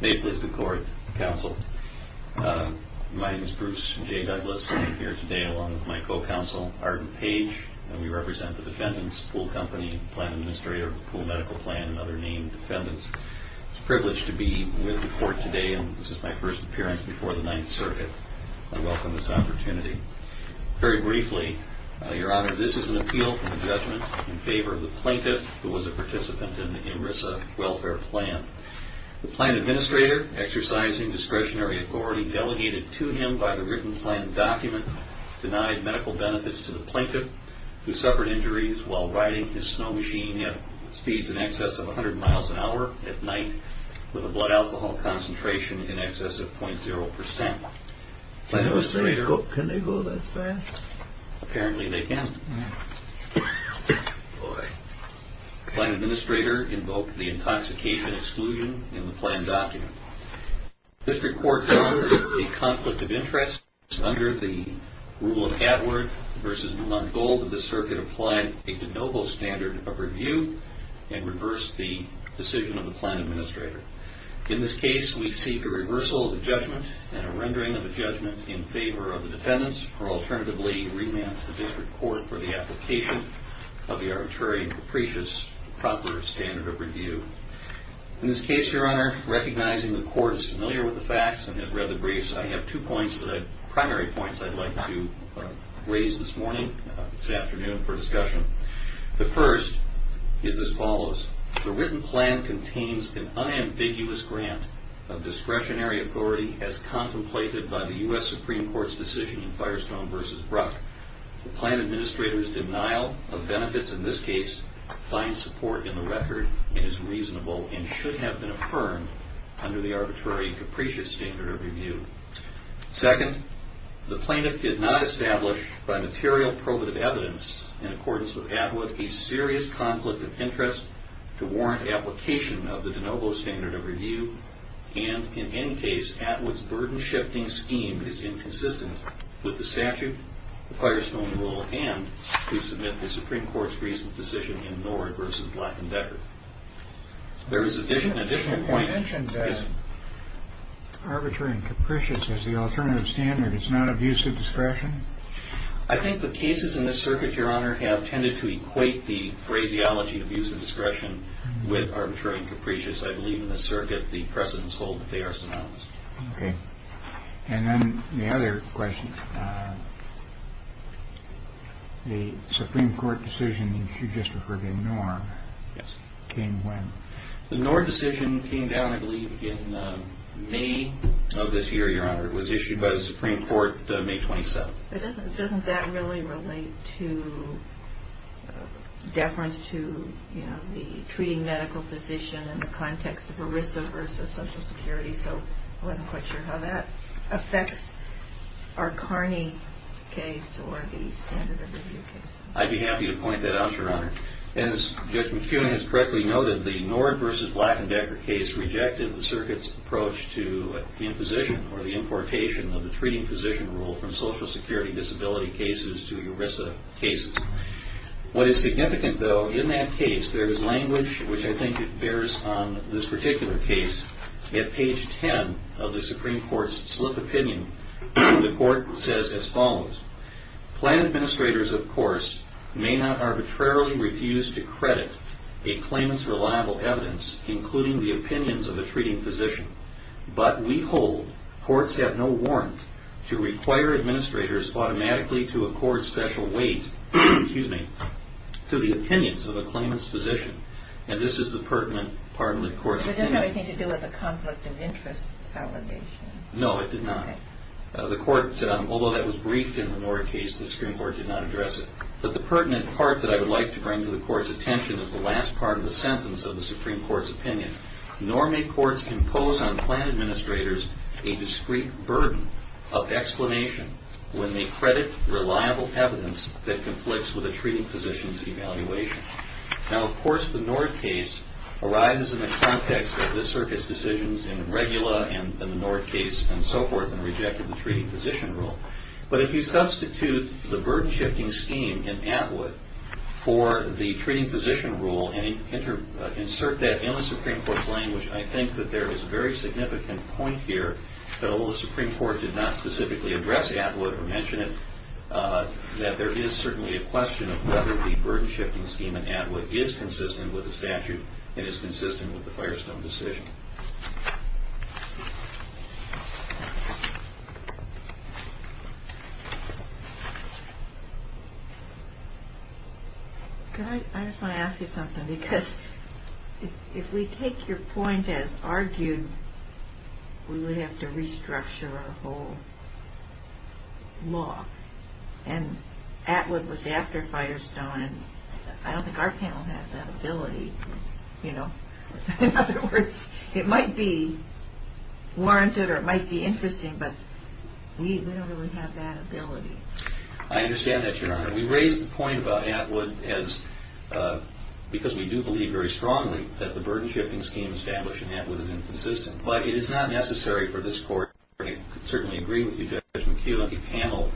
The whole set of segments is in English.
May it please the court, counsel. My name is Bruce J. Douglas. I'm here today along with my co-counsel, Arden Page, and we represent the defendants, Pool Company, Planning Administrator, Pool Medical Plan, and other named defendants. It's a privilege to be with the court today, and this is my first appearance before the Ninth Circuit. I welcome this opportunity. Very briefly, Your Honor, this is an appeal for the judgment in favor of the plaintiff who was a participant in the MRSA welfare plan. The plan administrator, exercising discretionary authority delegated to him by the written plan document, denied medical benefits to the plaintiff, who suffered injuries while riding his snow machine at speeds in excess of 100 miles an hour at night with a blood alcohol concentration in excess of 0.0%. Can they go that fast? Apparently they can't. Boy. The plan administrator invoked the intoxication exclusion in the plan document. This report covers a conflict of interest under the rule of Atwood v. Longold that the circuit applied a de novo standard of review and reversed the decision of the plan administrator. In this case, we seek a reversal of the judgment and a rendering of the judgment in favor of the defendants, or alternatively, remand the district court for the application of the arbitrary and capricious proper standard of review. In this case, Your Honor, recognizing the court is familiar with the facts and has read the briefs, I have two primary points I'd like to raise this morning, this afternoon, for discussion. The first is as follows. The written plan contains an unambiguous grant of discretionary authority as contemplated by the U.S. Supreme Court's decision in Firestone v. Bruck. The plan administrator's denial of benefits in this case finds support in the record and is reasonable and should have been affirmed under the arbitrary and capricious standard of review. Second, the plaintiff did not establish by material probative evidence in accordance with Atwood a serious conflict of interest to warrant application of the de novo standard of review, and in any case, Atwood's burden-shifting scheme is inconsistent with the statute, the Firestone rule, and to submit the Supreme Court's recent decision in Norwood v. Black & Becker. There is a different point. You mentioned that arbitrary and capricious as the alternative standard is not of use of discretion. I think the cases in this circuit, Your Honor, have tended to equate the phraseology of use of discretion with arbitrary and capricious. I believe in this circuit the precedents hold that they are synonymous. Okay. And then the other question. The Supreme Court decision you just referred to in Norwood. Yes. Came when? The Norwood decision came down, I believe, in May of this year, Your Honor. It was issued by the Supreme Court May 27. But doesn't that really relate to deference to, you know, the treating medical physician in the context of a risk-averse of Social Security? So I'm not quite sure how that affects our Carney case or the standard of review case. I'd be happy to point that out, Your Honor. As Judge McFeely has correctly noted, the Norwood v. Black & Becker case rejected the circuit's approach to the imposition or the importation of the treating physician rule from Social Security disability cases to ERISA cases. What is significant, though, in that case, there is language which I think bears on this particular case. At page 10 of the Supreme Court's split opinion, the court says as follows. Planned administrators, of course, may not arbitrarily refuse to credit a claimant's reliable evidence, including the opinions of a treating physician. But we hold courts have no warrant to require administrators automatically to accord special weight to the opinions of a claimant's physician. And this is the pertinent part of the court's opinion. It doesn't have anything to do with a conflict of interest allegation. No, it did not. Although that was briefed in the Norwood case, the Supreme Court did not address it. But the pertinent part that I would like to bring to the court's attention is the last part of the sentence of the Supreme Court's opinion. Nor may courts impose on planned administrators a discreet burden of explanation when they credit reliable evidence that conflicts with a treating physician's evaluation. Now, of course, the North case arrives in the context of this circuit's decisions in the Regula and the North case and so forth, and rejected the treating physician rule. But if you substitute the burden-shifting scheme in Atwood for the treating physician rule and insert that in the Supreme Court's language, I think that there is a very significant point here, though the Supreme Court did not specifically address Atwood or mention it, that there is certainly a question of whether the burden-shifting scheme in Atwood is consistent with the statute and is consistent with the Firestone decision. I just want to ask you something, because if we take your point as argued, we would have to restructure our whole law. And Atwood was after Firestone, and I don't think our panel has that ability. In other words, it might be warranted or it might be interesting, but we don't really have that ability. I understand that, Your Honor. We raised the point about Atwood because we do believe very strongly that the burden-shifting scheme established in Atwood is inconsistent. But it is not necessary for this court, and I certainly agree with you, Judge McHugh, on the panel.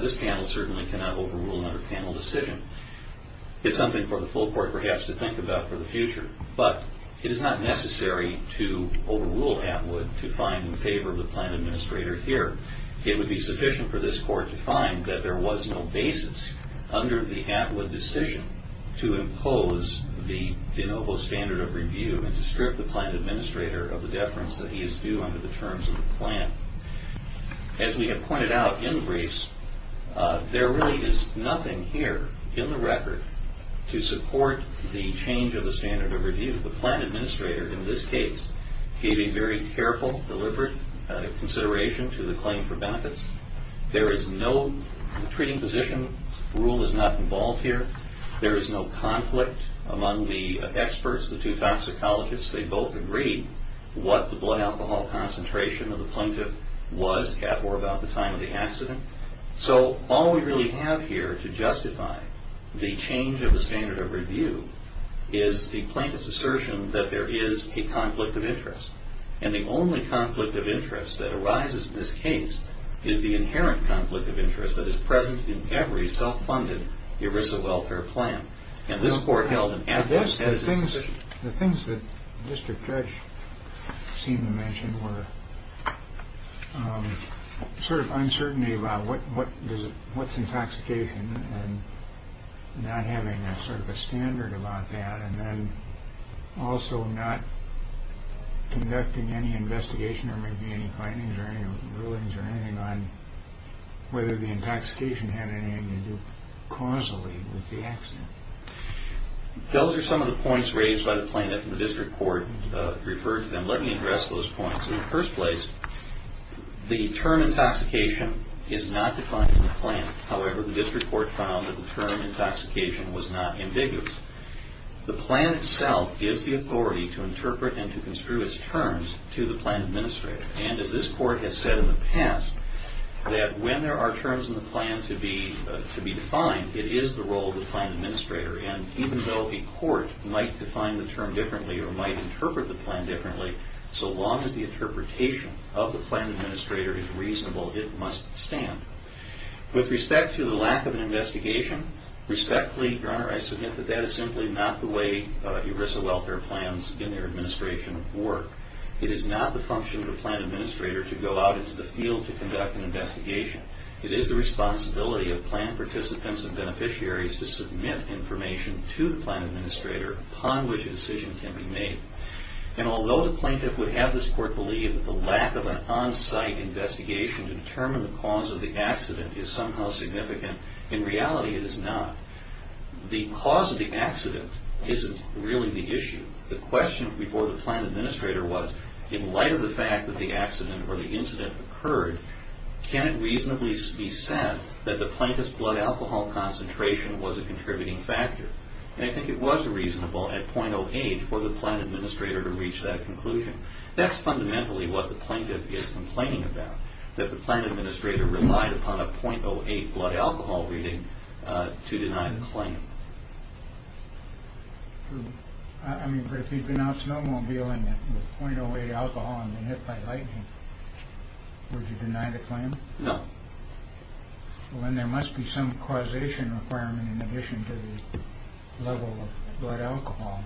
This panel certainly cannot overrule another panel decision. It's something for the full court, perhaps, to think about for the future. But it is not necessary to overrule Atwood to find in favor of the plan administrator here. It would be sufficient for this court to find that there was no basis under the Atwood decision to impose the de novo standard of review and to strip the plan administrator of the deference that he is due under the terms of the plan. As we have pointed out in briefs, there really is nothing here in the record to support the change of the standard of review. The plan administrator, in this case, gave a very careful, deliberate consideration to the claim for benefits. There is no treating physician rule is not involved here. There is no conflict among the experts, the two toxicologists. They both agreed what the blood alcohol concentration of the plaintiff was at or about the time of the accident. So all we really have here to justify the change of the standard of review is the plaintiff's assertion that there is a conflict of interest. And the only conflict of interest that arises in this case is the inherent conflict of interest that is present in every self-funded ERISA welfare plan. The things that Mr. Judge seemed to mention were sort of uncertainty about what is intoxication and not having sort of a standard about that and then also not conducting any investigation or making any findings or any rulings or anything on whether the intoxication had anything to do causally with the accident. Those are some of the points raised by the plaintiff and the district court referred to them. Let me address those points. In the first place, the term intoxication is not defined in the plan. However, the district court found that the term intoxication was not ambiguous. The plan itself gives the authority to interpret and to construe its terms to the plan administrator. And as this court has said in the past, that when there are terms in the plan to be defined, it is the role of the plan administrator. And even though a court might define the term differently or might interpret the plan differently, so long as the interpretation of the plan administrator is reasonable, it must stand. With respect to the lack of an investigation, respectfully, Your Honor, I submit that that is simply not the way ERISA welfare plans in their administration work. It is not the function of the plan administrator to go out into the field to conduct an investigation. It is the responsibility of plan participants and beneficiaries to submit information to the plan administrator upon which a decision can be made. And although the plaintiff would have this court believe that the lack of an on-site investigation to determine the cause of the accident is somehow significant, in reality it is not. The cause of the accident isn't really the issue. The question before the plan administrator was, in light of the fact that the accident or the incident occurred, can it reasonably be said that the plaintiff's blood alcohol concentration was a contributing factor? And I think it was reasonable at .08 for the plan administrator to reach that conclusion. That's fundamentally what the plaintiff is complaining about, that the plan administrator relied upon a .08 blood alcohol reading to deny the claim. I mean, but if he'd been on a snowmobile and the .08 alcohol had been hit by lightning, would you deny the claim? No. Well, then there must be some causation requirement in addition to the level of blood alcohol.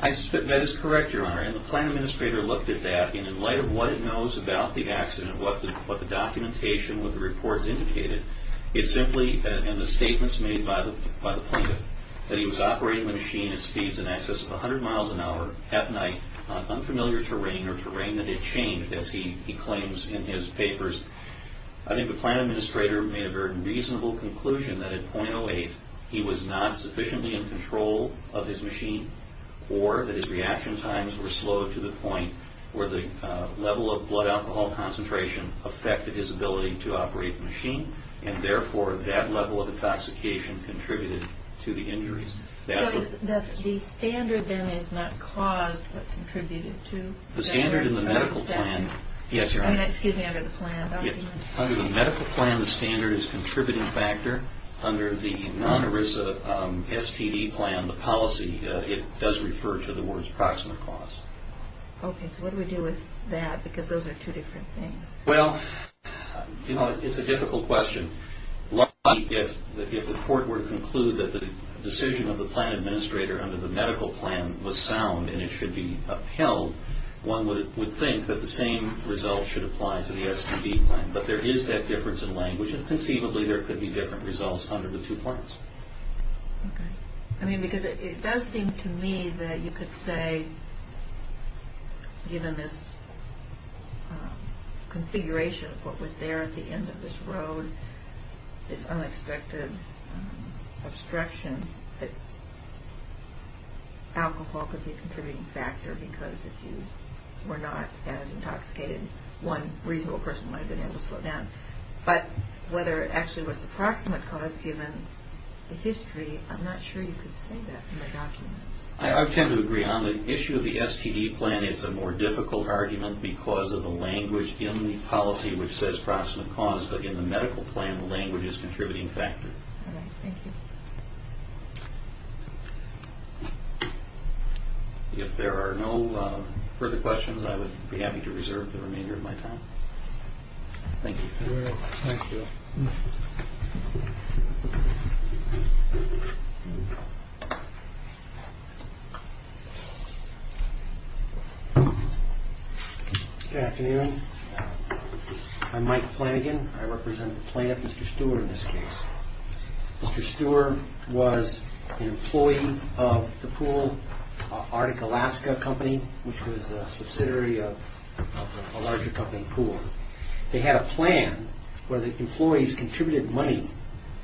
I submit that is correct, Your Honor, and the plan administrator looked at that, and in light of what he knows about the accident, what the documentation, what the reports indicated, it's simply in the statements made by the plaintiff that he was operating the machine at speeds in excess of 100 miles an hour at night on unfamiliar terrain or terrain that had changed, as he claims in his papers. I think the plan administrator made a very reasonable conclusion that at .08 he was not sufficiently in control of his machine or that his reaction times were slow to the point where the level of blood alcohol concentration affected his ability to operate the machine, and therefore that level of intoxication contributed to the injury. So the standard then is not caused but contributed to? The standard in the medical plan, yes, Your Honor. I mean, excuse me, under the plan document. Under the medical plan, the standard is a contributing factor. Under the non-ERISA STD plan, the policy, it does refer to the words proximate cause. Okay, so what do we do with that? Because those are two different things. Well, Your Honor, it's a difficult question. If the court were to conclude that the decision of the plan administrator under the medical plan was sound and it should be upheld, one would think that the same result should apply to the STD plan. But there is that difference in language, and conceivably there could be different results under the two plans. Okay. I mean, because it does seem to me that you could say, given this configuration of what was there at the end of this road, this unexpected obstruction, that alcohol could be a contributing factor because if you were not that intoxicated, one reasonable person might have been able to slow down. But whether it actually was the proximate cause given the history, I'm not sure you could say that in the document. I tend to agree. On the issue of the STD plan, it's a more difficult argument because of the language in the policy which says proximate cause, but in the medical plan, the language is a contributing factor. Okay, thank you. If there are no further questions, I would be happy to reserve the remainder of my time. Thank you. Thank you. Good afternoon. I'm Mike Flanagan. I represent the plan of Mr. Stewart in this case. Mr. Stewart was an employee of the pool, Arctic Alaska Company, which was a subsidiary of a larger company pool. They had a plan where the employees contributed money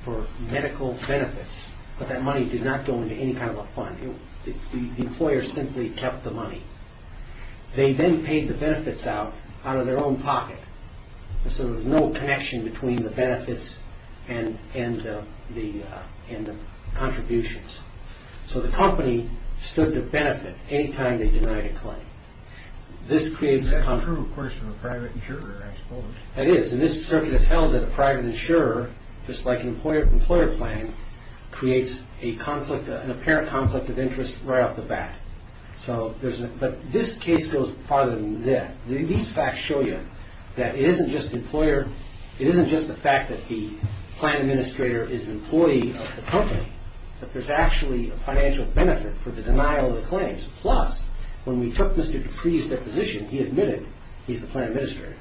for medical benefits, but that money did not go into any kind of a fund. The employer simply kept the money. They then paid the benefits out of their own pocket. So there was no connection between the benefits and the contributions. So the company stood to benefit any time they denied a claim. It is, and this circuit is held that a private insurer, just like an employer plan, creates an apparent conflict of interest right off the bat. But this case goes farther than that. These facts show you that it isn't just the fact that the plan administrator is an employee of the company, but there's actually a financial benefit for the denial of the claims. Plus, when we took Mr. Dupree's deposition, he admitted he's the plan administrator,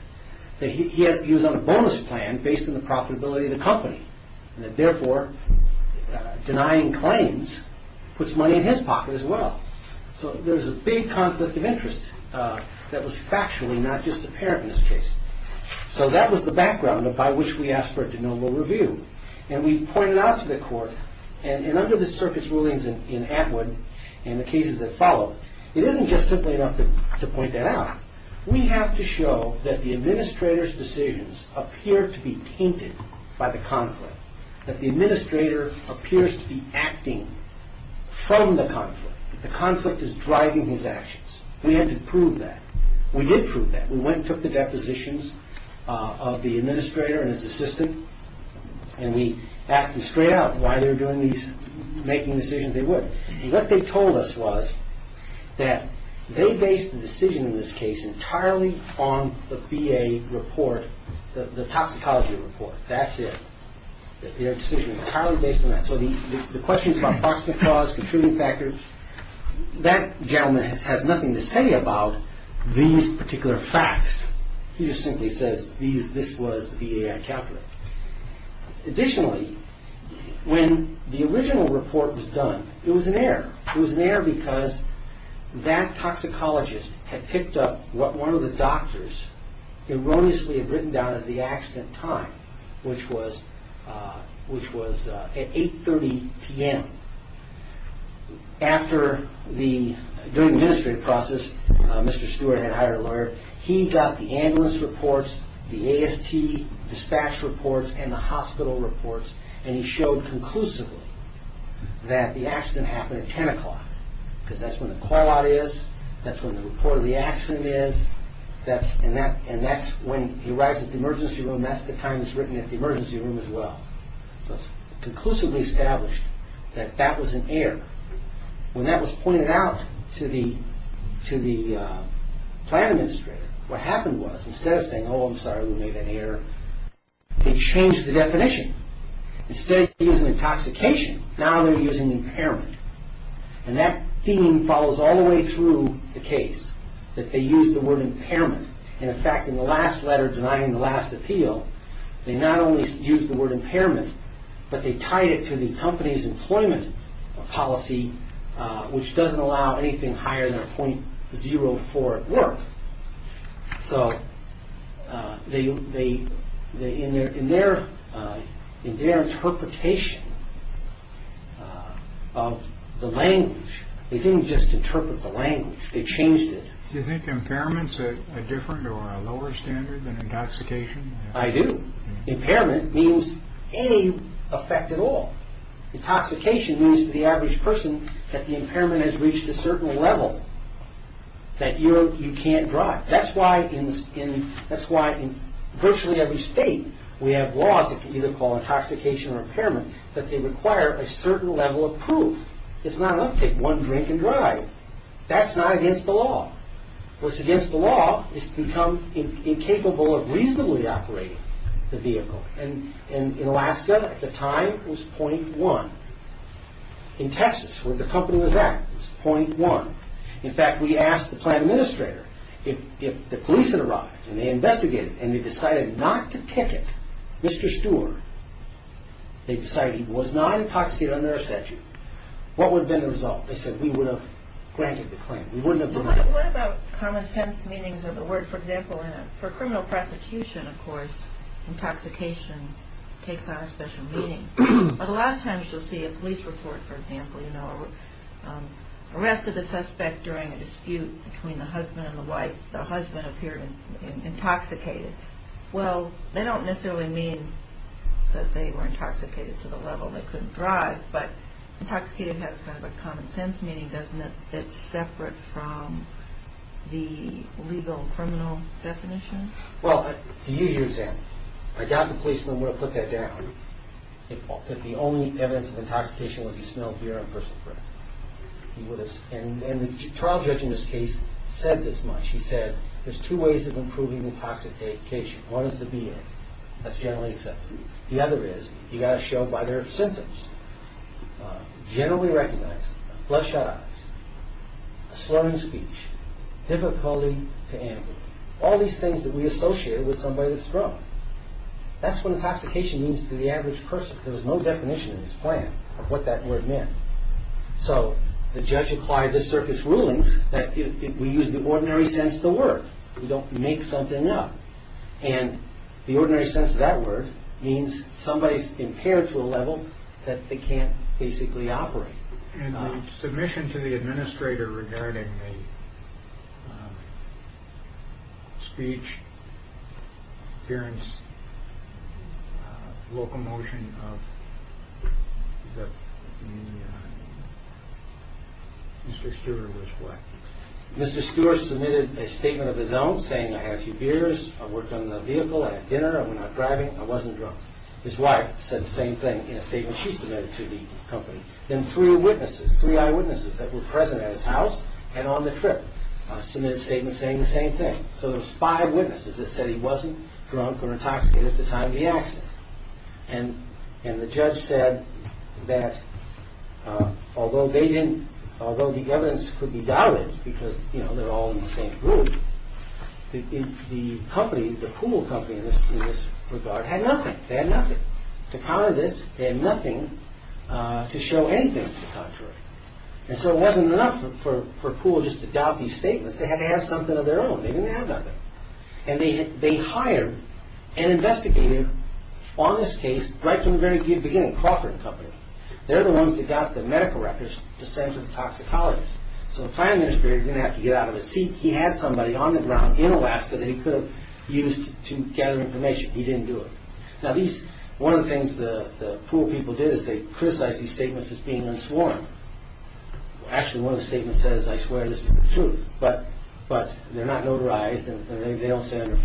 that he was on a bonus plan based on the profitability of the company, and that therefore denying claims puts money in his pocket as well. So there's a big conflict of interest that was factually not just apparent in this case. So that was the background by which we asked for a denial of review. And we pointed out to the court, and under the circuit's rulings in Atwood and the cases that followed, it isn't just simply enough to point that out. We have to show that the administrator's decisions appear to be tainted by the conflict, that the administrator appears to be acting from the conflict. The conflict is driving these actions. We had to prove that. We did prove that. We went and took the depositions of the administrator and his assistant, and we asked them straight out why they were making decisions they weren't. What they told us was that they based the decision in this case entirely on the VA report, the toxicology report. That's it. Their decision was entirely based on that. So the questions about toxic cause, contributing factors, that gentleman has nothing to say about these particular facts. He just simply says this was the VAI calculator. It was there because that toxicologist had picked up what one of the doctors erroneously had written down at the accident time, which was at 8.30 p.m. During the ministry process, Mr. Stewart and I are aware, he got the ambulance reports, the AST dispatch reports, and the hospital reports, and he showed conclusively that the accident happened at 10 o'clock because that's when the call-out is, that's when the report of the accident is, and that's when he arrives at the emergency room, and that's the time it's written at the emergency room as well. He conclusively established that that was an error. When that was pointed out to the plan administrator, what happened was instead of saying, oh, I'm sorry, we made an error, they changed the definition. Instead of using intoxication, now they're using impairment, and that theme follows all the way through the case, that they used the word impairment, and in fact, in the last letter denying the last appeal, they not only used the word impairment, but they tied it to the company's employment policy, which doesn't allow anything higher than a .04 at work, so in their interpretation of the language, they didn't just interpret the language. They changed it. Do you think impairment's a different or a lower standard than intoxication? I do. Impairment means any effect at all. Intoxication means to the average person that the impairment has reached a certain level that you can't drive. That's why in virtually every state we have laws that can be called intoxication or impairment, but they require a certain level of proof. It's not enough to take one drink and drive. That's not against the law. What's against the law is to become incapable of reasonably operating the vehicle, and in Alaska at the time it was .1. In Texas, where the company was at, it was .1. In fact, we asked the plant administrator if the police had arrived, and they investigated, and they decided not to ticket Mr. Stewart. They decided he was not intoxicated under a statute. What would have been the result? They said we would have granted the claim. We wouldn't have done that. What about common sense meanings of the word, for example, and for criminal prosecution, of course, intoxication takes on a special meaning. A lot of times you'll see a police report, for example, you know, arrested a suspect during a dispute between the husband and the wife. The husband appeared intoxicated. Well, they don't necessarily mean that they were intoxicated to the level they couldn't drive, but intoxicated has kind of a common sense meaning, doesn't it? It's separate from the legal criminal definition. Well, do you use that? I doubt the policeman would have put that down if the only evidence of intoxication was the smell of beer on a person's breath. And the trial judge in this case said this much. He said there's two ways of improving the intoxication. One is the beer. That's generally accepted. The other is you've got to show by their symptoms. Generally recognized. Bloodshot eyes. Slurring speech. Difficulty to handle. All these things that we associate with somebody that's drunk. That's what intoxication means to the average person. There's no definition in this plan of what that word means. So, the judge applied this circuit's rulings that we use the ordinary sense of the word. We don't make something up. And the ordinary sense of that word means somebody's impaired to a level that they can't basically operate. And the submission to the administrator regarding the speech, appearance, locomotion of Mr. Stewart was what? Mr. Stewart submitted a statement of his own saying I had a few beers. I worked on the vehicle. I had dinner. I went out driving. I wasn't drunk. His wife said the same thing in a statement she submitted to the company. Then three witnesses, three eyewitnesses that were present at his house and on the trip submitted statements saying the same thing. So, there was five witnesses that said he wasn't drunk or intoxicated at the time of the accident. And the judge said that although the evidence could be diluted because, you know, they're all in the same group, the company, the pool company in this regard had nothing. They had nothing. They had nothing to show anything to the contrary. And so, it wasn't enough for a pool just to doubt these statements. They had to have something of their own. They didn't have nothing. And they hired an investigator on this case right from the very beginning, Crawford and Company. They're the ones that got the medical records to send to the toxicologist. So, the fire ministry didn't have to get out of his seat. He had somebody on the ground in Alaska that he could have used to gather information. He didn't do it. Now, one of the things the pool people did is they criticized these statements as being unsworn. Actually, one of the statements says, I swear this is the truth. But they're not notarized and they don't stand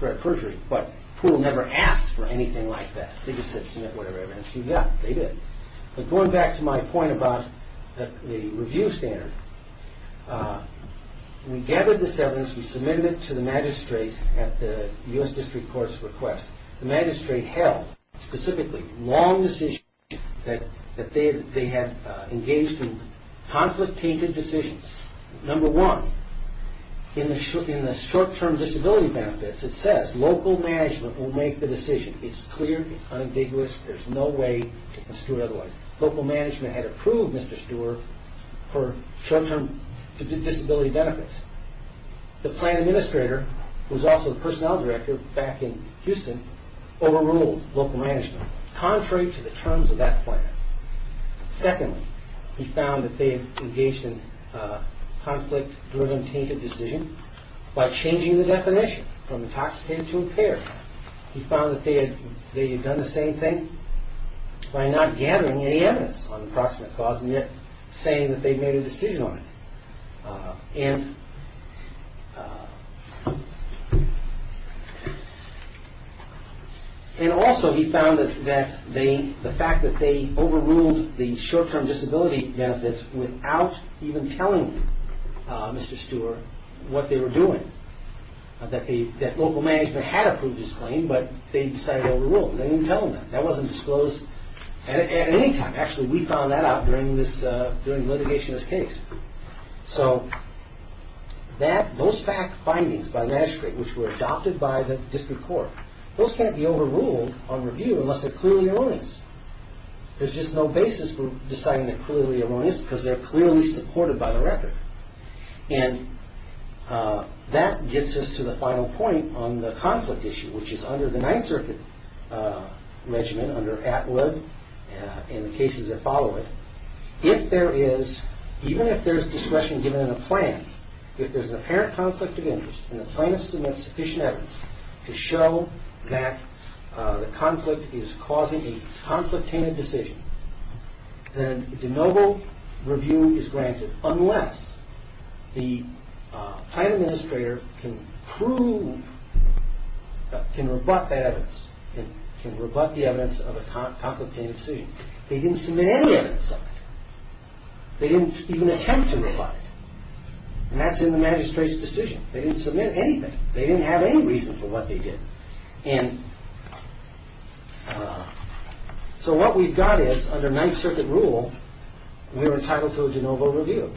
for a perjury. But pool never asked for anything like that. They just said to submit whatever evidence you got. They did. But going back to my point about the review standards, we gathered the evidence. We submitted it to the magistrate at the U.S. District Court's request. The magistrate held specifically long decisions that they had engaged in conflict-tainted decisions. Number one, in the short-term disability benefits, it says local management will make the decision. It's clear. It's undisputed. There's no way to construe otherwise. Local management had approved Mr. Stewart for short-term disability benefits. The plan administrator, who's also the personnel director back in Houston, overruled local management, contrary to the terms of that plan. Secondly, he found that they had engaged in conflict-driven, tainted decision by changing the definition from intoxicated to impaired. He found that they had done the same thing by not gathering any evidence on the approximate cause and yet saying that they made a decision on it. And also, he found that the fact that they overruled the short-term disability benefits without even telling Mr. Stewart what they were doing, that local management had approved his claim but they decided to overrule it. They didn't tell him that. That wasn't disclosed at any time. Actually, we found that out during litigation of this case. So, those fact findings by magistrate, which were adopted by the district court, those can't be overruled on review unless they're clearly erroneous. There's just no basis for deciding they're clearly erroneous because they're clearly supported by the record. And that gets us to the final point on the conflict issue, which is under the Ninth Circuit Regimen, under APLA and the cases that follow it. If there is, even if there's discretion given in the plan, if there's an apparent conflict of interest and the plan has submitted sufficient evidence to show that the conflict is causing a conflict-tainted decision, then the noble review is granted unless the plan administrator can prove, can rebut that evidence, can rebut the evidence of a conflict-tainted decision. They didn't submit any evidence of it. They didn't even attempt to rebut it. And that's in the magistrate's decision. They didn't submit anything. They didn't have any reason for what they did. And so what we've got is, under Ninth Circuit rule, we're entitled to a general review.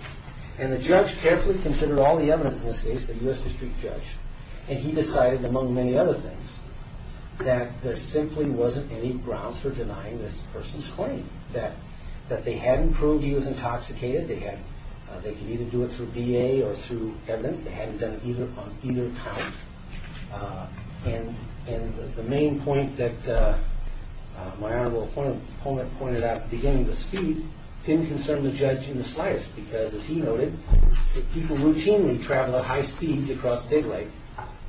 And the judge carefully considered all the evidence in this case, the U.S. District Judge, and he decided, among many other things, that there simply wasn't any grounds for denying this person's claim, that they hadn't proved he was intoxicated. They could either do it through DA or through evidence. They hadn't done it on either time. And the main point that my Honorable Appointment pointed out at the beginning of the speech, it's inconsiderate of the judge in the slightest because, as he noted, that people routinely travel at high speeds across Big Lake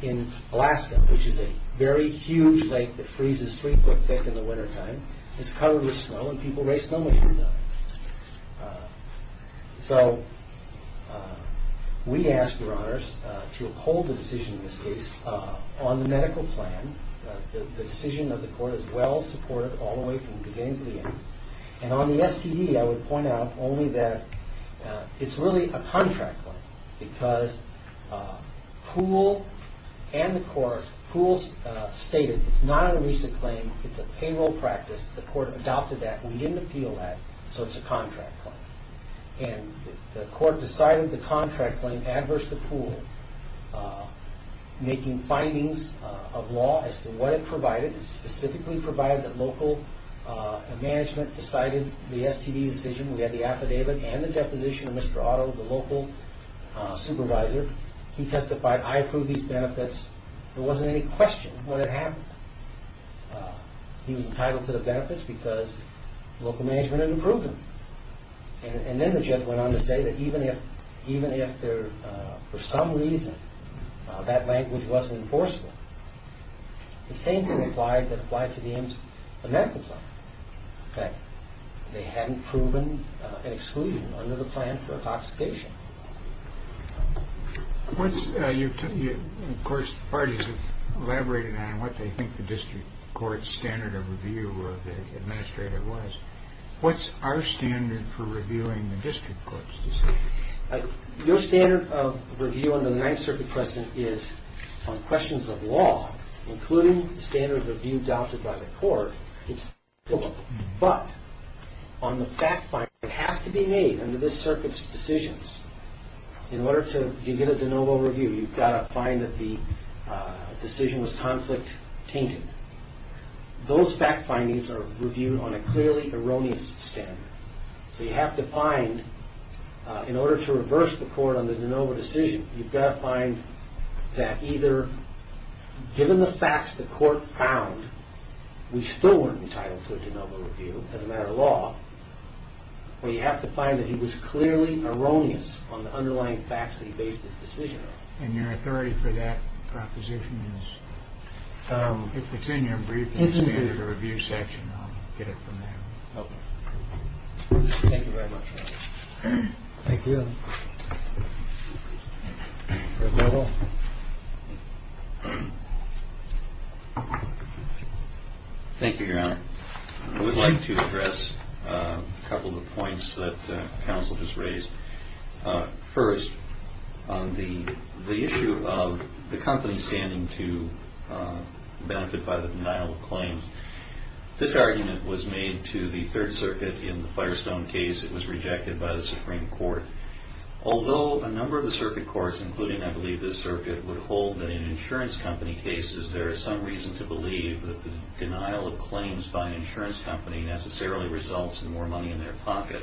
in Alaska, which is a very huge lake that freezes three foot thick in the wintertime. It's covered with snow and people race normally through there. So we ask, Your Honors, to uphold the decision in this case on the medical plan. The decision of the court is well supported all the way from the beginning to the end. And on the STD, I would point out only that it's really a contract claim because Poole and the court, Poole stated it's not an illicit claim, it's a payroll practice. The court adopted that. We didn't appeal that. So it's a contract claim. And the court decided the contract claim adverse to Poole, making findings of law as to what it provided. It specifically provided that local management decided the STD decision. We had the affidavit and the deposition of Mr. Otto, the local supervisor. He testified, I approve these benefits. There wasn't any question what had happened. He was entitled to the benefits because local management had approved them. And then the judge went on to say that even if for some reason that language wasn't enforceable, the same thing applied that applied to the medical plan, that they hadn't proven an exclusion under the plan for intoxication. Of course, the parties have elaborated on what they think the district court's standard of review of the administrator was. What's our standard for reviewing the district court's decision? Your standard of review under the Ninth Circuit precedent is on questions of law, including the standard of review adopted by the court. But on the fact findings that have to be made under this circuit's decisions, in order to begin a de novo review, you've got to find that the decision was conflict-tainted. Those fact findings are reviewed on a clearly erroneous standard. So you have to find, in order to reverse the court on the de novo decision, you've got to find that either given the facts the court found, we still weren't entitled to a de novo review as a matter of law, or you have to find that he was clearly erroneous on the underlying facts that he based his decision on. And your authority for that proposition is? If it's in your brief, it's in the review section. I'll get it from there. Okay. Thank you very much. Thank you. Thank you, Your Honor. I would like to address a couple of points that counsel just raised. First, on the issue of the company standing to benefit by the denial of claims, this argument was made to the Third Circuit in the Firestone case. It was rejected by the Supreme Court. Although a number of the circuit courts, including, I believe, this circuit, would hold that in insurance company cases, there is some reason to believe that the denial of claims by an insurance company necessarily results in more money in their pocket,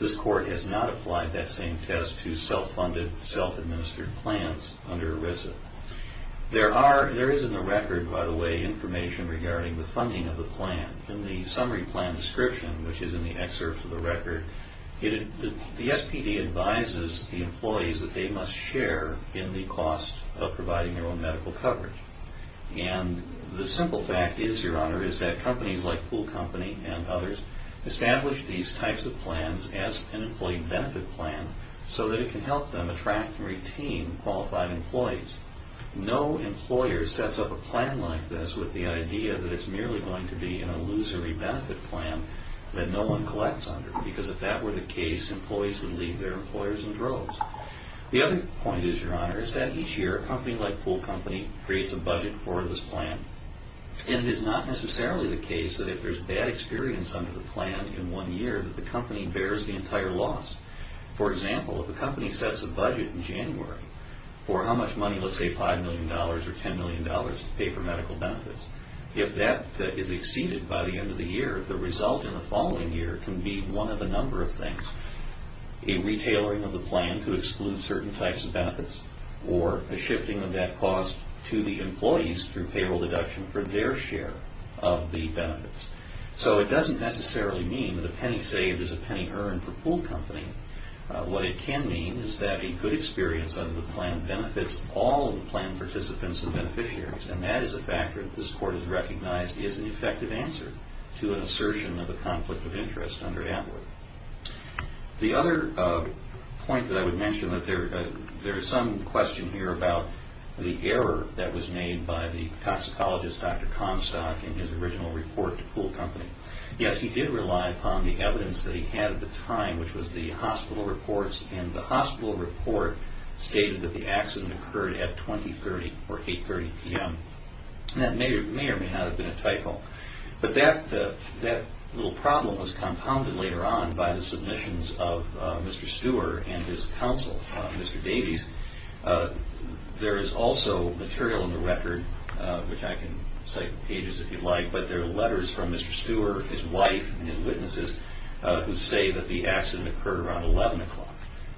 this court has not applied that same test to self-funded, self-administered plants under ERISA. There is in the record, by the way, information regarding the funding of the plan. In the summary plan description, which is in the excerpt of the record, the SPD advises the employees that they must share in the cost of providing their own medical coverage. And the simple fact is, Your Honor, is that companies like Pool Company and others establish these types of plans as an employee benefit plan so that it can help them attract and retain qualified employees. No employer sets up a plan like this with the idea that it's merely going to be a lose-or-be-benefit plan that no one collects under, because if that were the case, employees would leave their employers in droves. The other point is, Your Honor, is that each year a company like Pool Company creates a budget for this plan. And it's not necessarily the case that if there's bad experience under the plan in one year that the company bears the entire loss. For example, if a company sets a budget in January for how much money, let's say $5 million or $10 million to pay for medical benefits, if that is exceeded by the end of the year, the result in the following year can be one of a number of things. A re-tailoring of the plan to exclude certain types of benefits or a shifting of that cost to the employees through payroll deduction for their share of the benefits. So it doesn't necessarily mean that a penny saved is a penny earned for Pool Company. What it can mean is that a good experience under the plan benefits all of the plan participants and beneficiaries, and that is a fact that this Court has recognized is an effective answer to an assertion of a conflict of interest under AdWords. The other point that I would mention that there is some question here about the error that was made by the toxicologist, Dr. Comstock, in his original report to Pool Company. Yes, he did rely upon the evidence that he had at the time, which was the hospital reports, and the hospital report stated that the accident occurred at 20.30 or 8.30 p.m. That may or may not have been a typo. But that little problem was compounded later on by the submissions of Mr. Stewart and his counsel, Mr. Davies. There is also material in the record, which I can cite pages if you'd like, but there are letters from Mr. Stewart, his wife, and his witnesses who say that the accident occurred around 11 o'clock.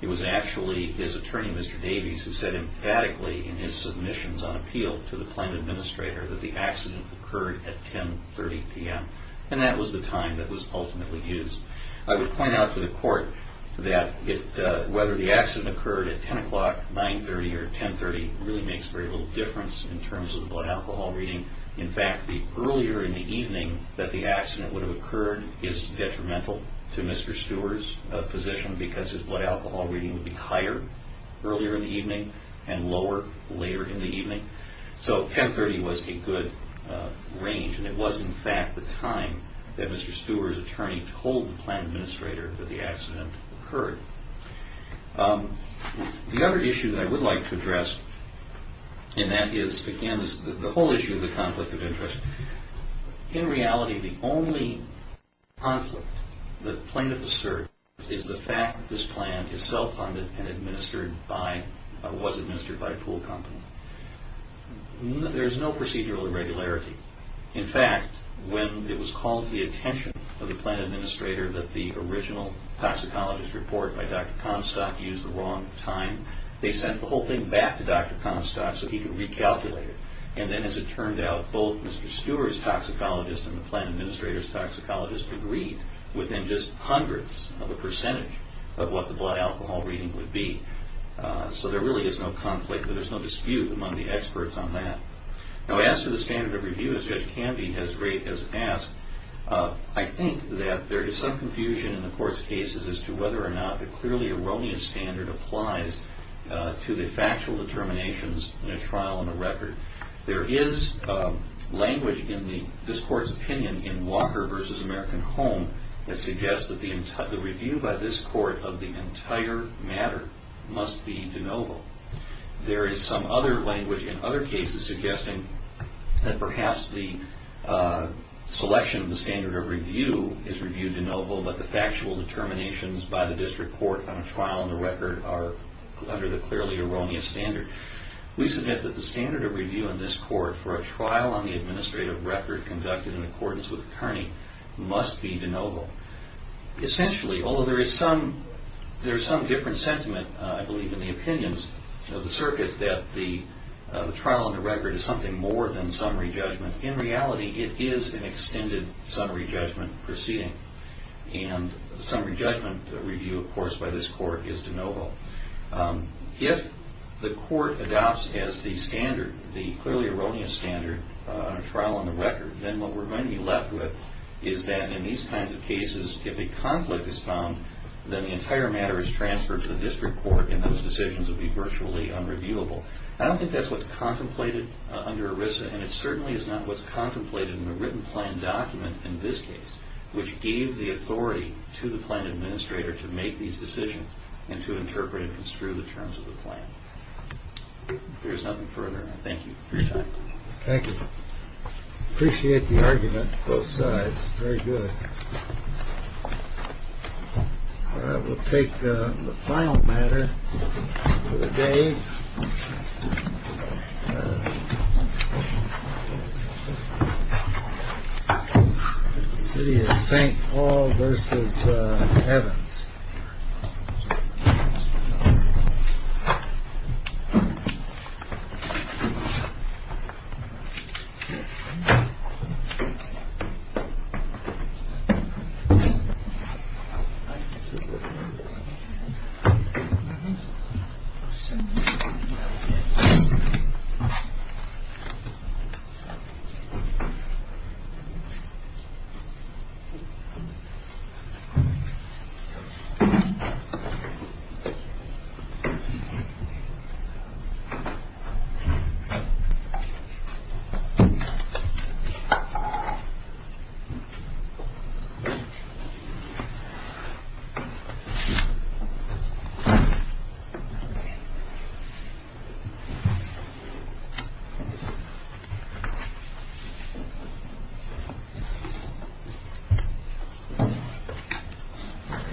It was actually his attorney, Mr. Davies, who said emphatically in his submissions on appeal to the plan administrator that the accident occurred at 10.30 p.m., and that was the time that was ultimately used. I would point out to the court that whether the accident occurred at 10 o'clock, 9.30, or 10.30 really makes very little difference in terms of blood alcohol reading. In fact, the earlier in the evening that the accident would have occurred is detrimental to Mr. Stewart's position because his blood alcohol reading would be higher earlier in the evening and lower later in the evening. So 10.30 was a good range, and it was, in fact, the time that Mr. Stewart's attorney told the plan administrator that the accident occurred. The other issue that I would like to address, and that is, again, the whole issue of the conflict of interest. In reality, the only conflict that plaintiffs assert is the fact that this plan is self-funded and was administered by a pool company. There is no procedural irregularity. In fact, when it was called to the attention of the plan administrator that the original toxicologist report by Dr. Comstock used the wrong time, they sent the whole thing back to Dr. Comstock so he could recalculate it. And then, as it turned out, both Mr. Stewart's toxicologist and the plan administrator's toxicologist agreed within just hundreds of a percentage of what the blood alcohol reading would be. So there really isn't a conflict. There's no dispute among the experts on that. Now, as to the standard of review, as good as it can be, as great as it has, I think that there is some confusion in the court's cases as to whether or not the clearly erroneous standard applies to the factual determinations in a trial and a record. There is language in this court's opinion in Walker v. American Home that suggests that the review by this court of the entire matter must be de novo. There is some other language in other cases suggesting that perhaps the selection of the standard of review is reviewed de novo, but the factual determinations by the district court on a trial and a record are under the clearly erroneous standard. We suggest that the standard of review in this court for a trial on the administrative record conducted in accordance with Kearney must be de novo. Essentially, although there is some different sentiment, I believe, in the opinions of the circuit, that the trial on the record is something more than summary judgment, in reality it is an extended summary judgment proceeding. And the summary judgment review, of course, by this court is de novo. If the court adopts as the standard, the clearly erroneous standard, then what we're going to be left with is that in these kinds of cases, if a conflict is found, then the entire matter is transferred to the district court and those decisions will be virtually unreviewable. I don't think that's what's contemplated under ERISA, and it certainly is not what's contemplated in the written plan document in this case, which gave the authority to the plan administrator to make these decisions and to interpret and construe the terms of the plan. There's nothing further. Thank you. Thank you. Appreciate the argument from both sides. Very good. We'll take the final matter for the day. Thank you. Thank you.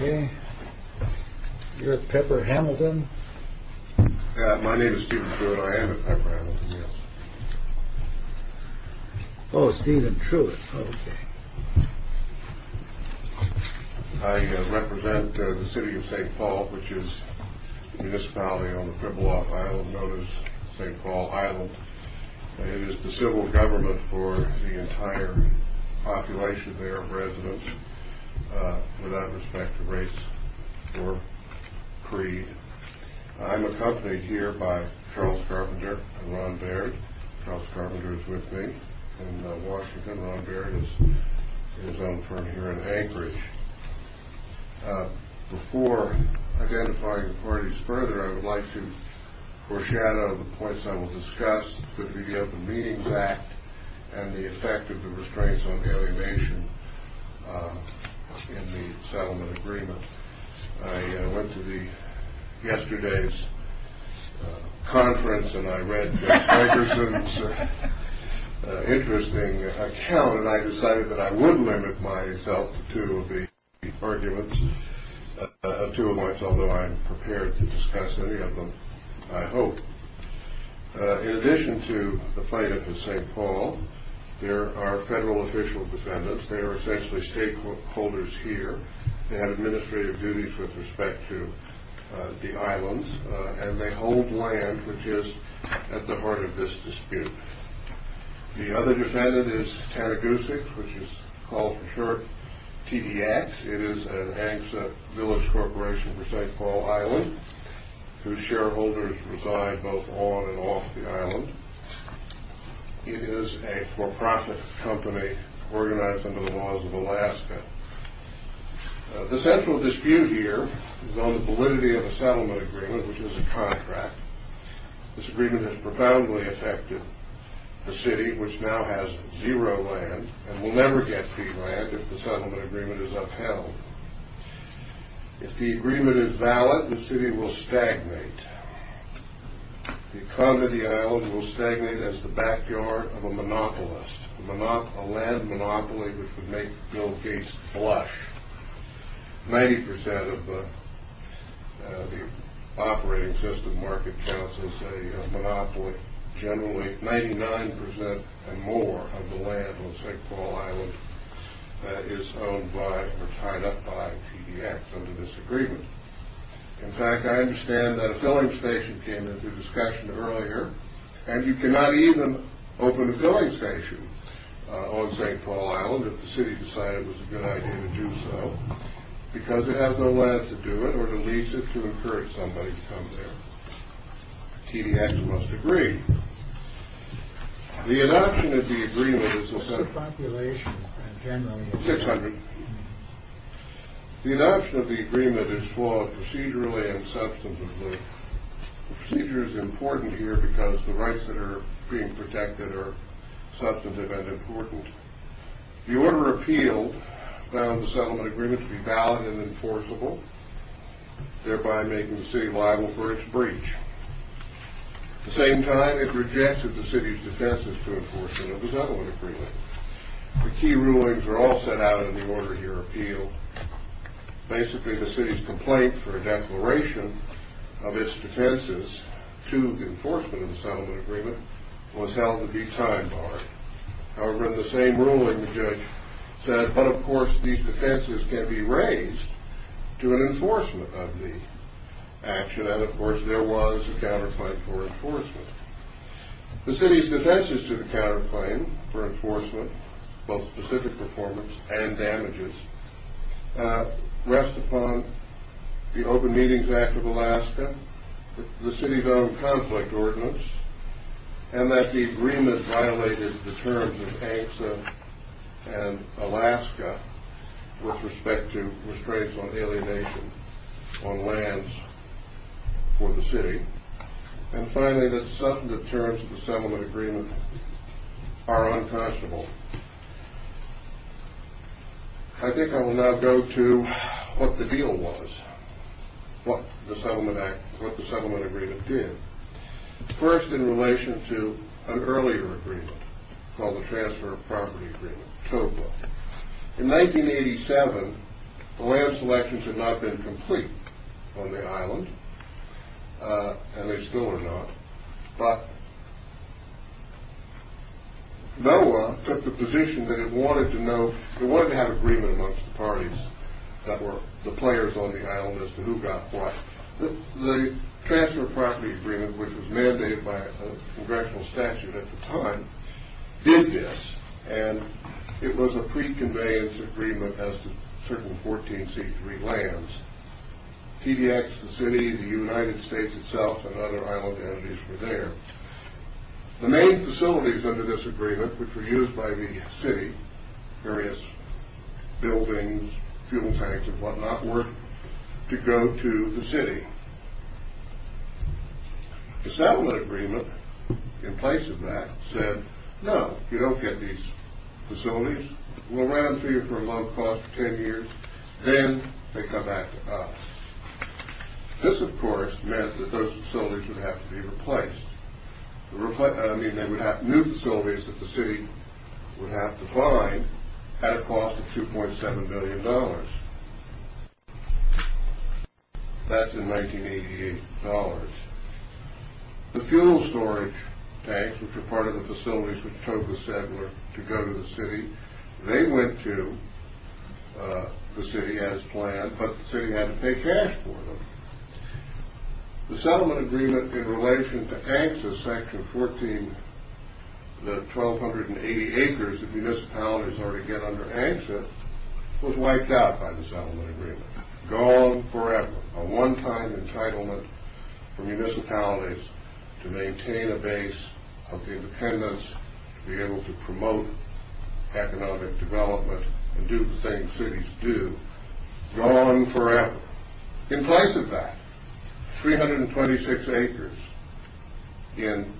Okay. You're Pepper Hamilton? My name is Steven Truitt. I am at Pepper Hamilton, yes. Oh, Steven Truitt. Okay. I represent the city of St. Paul, which is in this valley on the Pribilof Island. It's known as St. Paul Island. It is the civil government for the entire population there, residents, without respect to race or creed. I'm accompanied here by Charles Carpenter and Ron Baird. Charles Carpenter is with me in Washington. Ron Baird is on the phone here in Anchorage. Before identifying the parties further, I would like to foreshadow the points I will discuss, the meetings at and the effect of the restraints on alienation in the settlement agreement. I went to yesterday's conference and I read Mr. Anderson's interesting account, and I decided that I would limit myself to the arguments, although I'm prepared to discuss any of them, I hope. In addition to the fight at St. Paul, there are federal official defendants. They are essentially stakeholders here. They have administrative duties with respect to the islands, and they hold land, which is at the heart of this dispute. The other defendant is Taragusic, which is called for short TDX. It is an absent village corporation for St. Paul Island, whose shareholders reside both on and off the island. It is a for-profit company organized under the laws of Alaska. The central dispute here is on the validity of a settlement agreement, which is a contract. This agreement has profoundly affected the city, which now has zero land and will never get free land if the settlement agreement is upheld. If the agreement is valid, the city will stagnate. The economy of the island will stagnate as the backyard of a monopolist, a land monopoly which can make no case flush. Ninety percent of the operating system market counts as a monopoly. Generally, 99 percent and more of the land on St. Paul Island is owned by or tied up by TDX under this agreement. In fact, I understand that a filling station came into discussion earlier, and you cannot even open a filling station on St. Paul Island if the city decided it was a good idea to do so, because it has no land to do it or to lease it to encourage somebody to come there. TDX must agree. The adoption of the agreement is for procedurally and substantively. Procedure is important here because the rights that are being protected are substantively important. The Order of Appeal found the settlement agreement to be valid and enforceable, thereby making the city liable for its breach. At the same time, it rejected the city's defenses to enforcement of the settlement agreement. The key rulings are all set out in the Order of Appeal. Basically, the city's complaint for a declaration of its defenses to enforcement of the settlement agreement was held to be time-barred. However, in the same ruling, the judge said, but of course these defenses can be raised to an enforcement of the action, and of course there was a counterclaim for enforcement. The city's defenses to the counterclaim for enforcement, both specific performance and damages, rest upon the Open Meetings Act of Alaska, the city's own conflict ordinance, and that the agreement violated the terms of ANCSA and Alaska with respect to constraints on alienation on lands for the city. And finally, that some deterrents of the settlement agreement are unpossible. I think I will now go to what the deal was, what the settlement agreement did. First, in relation to an earlier agreement called the Transfer of Property Agreement, TOPA. In 1987, land selections had not been complete on the island, and they still are not, but NOAA took the position that it wanted to know, it wanted to have agreement amongst the parties that were the players on the island as to who got what. The Transfer of Property Agreement, which was mandated by a congressional statute at the time, did this, and it was a pre-conveyance agreement as to certain 14c3 lands. TDX, the city, the United States itself, and other island entities were there. The main facilities under this agreement, which were used by the city, various buildings, fuel tanks, and what not, were to go to the city. The settlement agreement, in place of that, said, no, you don't get these facilities, we'll run them through you for a long pause for ten years, then they come back to us. This, of course, meant that those facilities would have to be replaced. New facilities that the city would have to find had a cost of $2.7 billion. That's in 1988 dollars. The fuel storage tanks, which were part of the facilities that drove the settler to go to the city, they went to the city as planned, but the city had to pay cash for them. The settlement agreement in relation to ANSYS section 14, the 1,280 acres that municipalities already get under ANSYS, was wiped out by the settlement agreement. Gone forever. A one-time entitlement for municipalities to maintain a base of independence, to be able to promote economic development, and do the same cities do. Gone forever. In place of that, 326 acres in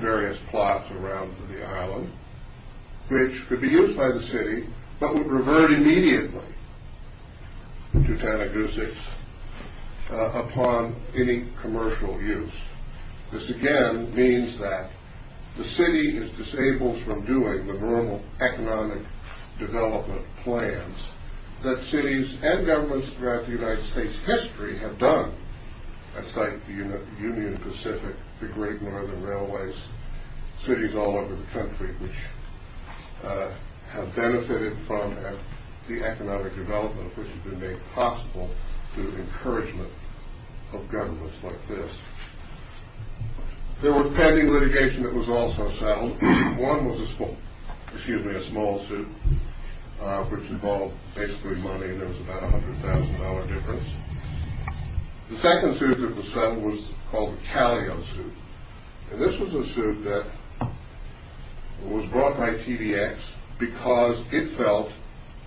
various plots around the island, which could be used by the city, but would revert immediately to Tanagusis upon any commercial use. This, again, means that the city is disabled from doing the normal economic development plans that cities and governments throughout the United States history have done. That's like the Union Pacific, the Great Northern Railways. Cities all over the country which have benefited from the economic development which has been made possible through encouragement of governments like this. There were pending litigation that was also settled. One was a small suit, which involved basically money. There was about a $100,000 difference. The second suit that was settled was called the Calio suit. This was a suit that was brought by TDX because it felt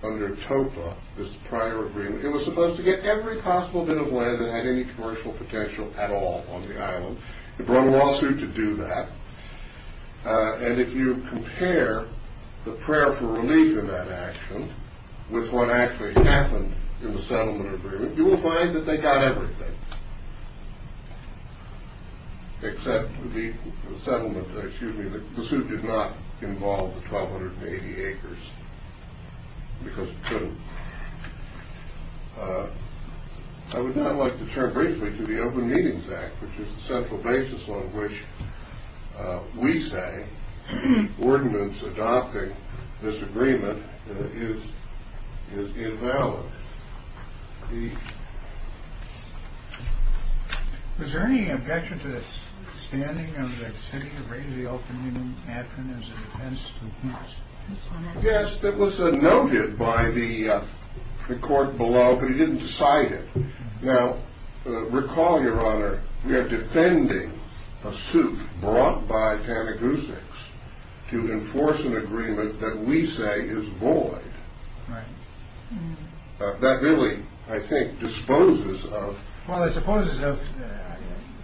under TOPA, this prior agreement, it was supposed to get every possible bit of lead that had any commercial potential at all on the island. It brought a lawsuit to do that. And if you compare the prayer for relief in that action with what actually happened in the settlement agreement, you will find that they got everything, except for the settlement, excuse me, the suit did not involve the 1,280 acres because it couldn't. I would now like to turn briefly to the Open Meetings Act, which is the central basis on which we say ordinance adopting this agreement is invalid. Is there any objection to the standing of the city of the Open Meetings Act as a defense of the peace? Yes, it was noted by the court below, but he didn't cite it. Now, recall, Your Honor, we are defending a suit brought by Panagousis to enforce an agreement that we say is void. Right. That really, I think, disposes of...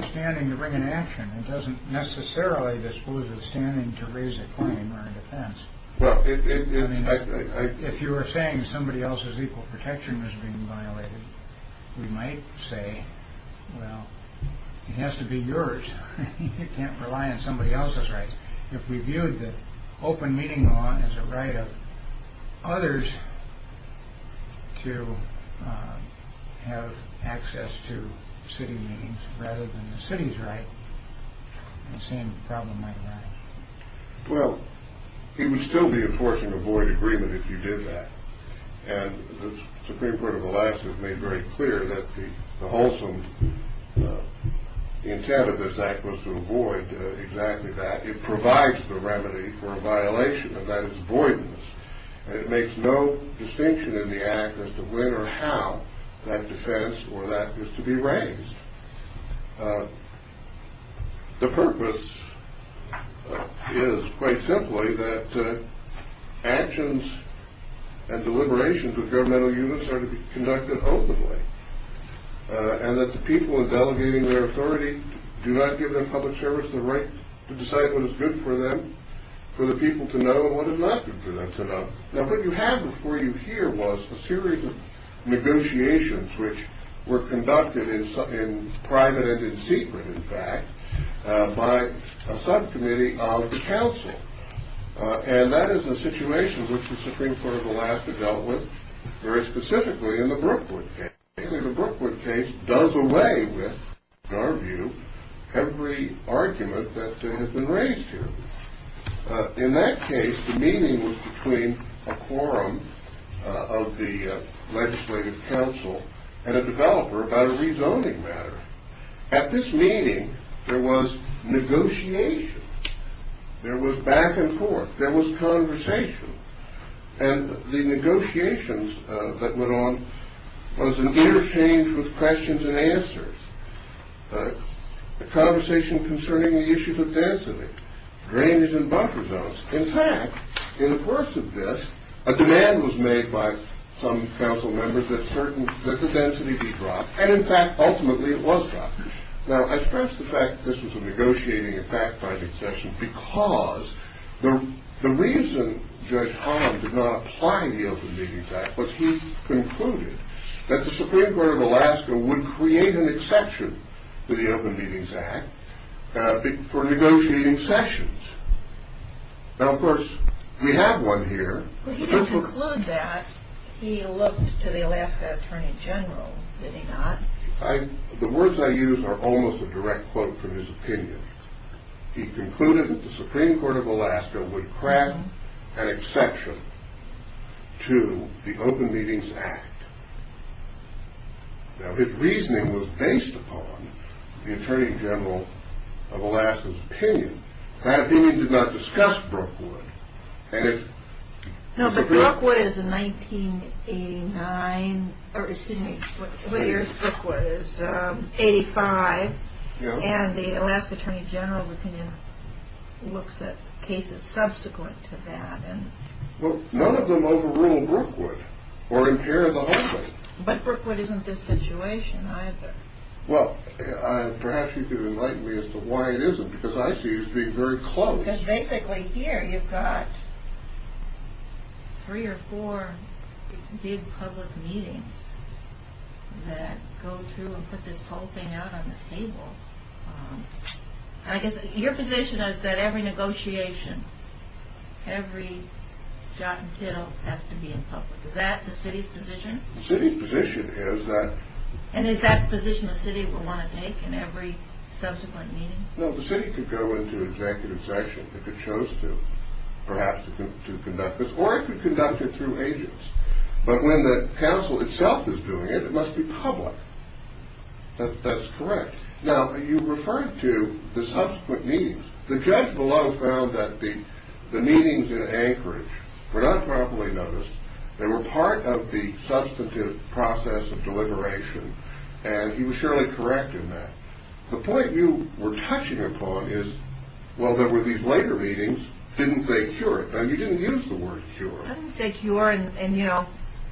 If you were saying somebody else's equal protection was being violated, we might say, well, it has to be yours. You can't rely on somebody else's rights. If we viewed the open meeting law as a right of others to have access to city meetings rather than the city's right, the same problem might arise. Well, he would still be enforcing a void agreement if he did that, and the Supreme Court of Alaska has made very clear that the wholesome intent of this act was to avoid exactly that. It provides the remedy for a violation, and that is voidness. It makes no distinction in the act as to when or how that defense or that was to be raised. The purpose is, quite simply, that actions and deliberations of governmental units are to be conducted openly, and that the people delegating their authority do not give their public servants the right to decide what is good for them, for the people to know and what is not good for them to know. Now, what you have before you here was a series of negotiations which were conducted in private and in secret, in fact, by a subcommittee out of the council, and that is the situation which the Supreme Court of Alaska dealt with very specifically in the Brookwood case. The Brookwood case does away with, in our view, every argument that has been raised here. In that case, the meeting was between a quorum of the legislative council and a developer about a rezoning matter. At this meeting, there was negotiation. There was back and forth. There was conversation, and the negotiations that went on was an interchange with questions and answers, a conversation concerning the issues of density, drainage and buffer zones. In fact, in the course of this, a demand was made by some council members that the density be dropped, and in fact, ultimately, it was dropped. Now, I stress the fact that this was a negotiating and fact-finding session because the reason Judge Holland did not apply the Open Meeting Act was he concluded that the Supreme Court of Alaska would create an exception to the Open Meetings Act for negotiating sessions. Now, of course, we have one here. He didn't conclude that. He looked to the Alaska Attorney General. Did he not? The words I used are almost a direct quote from his opinion. He concluded that the Supreme Court of Alaska would create an exception to the Open Meetings Act. Now, his reasoning was based upon the Attorney General of Alaska's opinion. That opinion did not discuss Brookwood. No, but Brookwood is a 1989, or excuse me, what year is Brookwood? It's 85, and the Alaska Attorney General's opinion looks at cases subsequent to that. Well, none of them overruled Brookwood or in care of the homeless. But Brookwood isn't this situation either. Well, perhaps you could enlighten me as to why it isn't because I see it as being very close. Because basically here you've got three or four big public meetings that go through and put this whole thing out on the table. I guess your position is that every negotiation, every shot and kill has to be in public. Is that the city's position? The city's position is that. And is that the position the city will want to take in every subsequent meeting? Well, the city could go into executive sanction if it chose to, perhaps, to conduct this, or it could conduct it through agents. But when the council itself is doing it, it must be public. That's correct. Now, you referred to the subsequent meetings. The judge below found that the meetings in Anchorage were not properly noticed. They were part of the substantive process of deliberation, and he was surely correct in that. The point you were touching upon is, well, there were these later meetings. Didn't they cure it? Now, you didn't use the word cure. I didn't say cure, and, you know,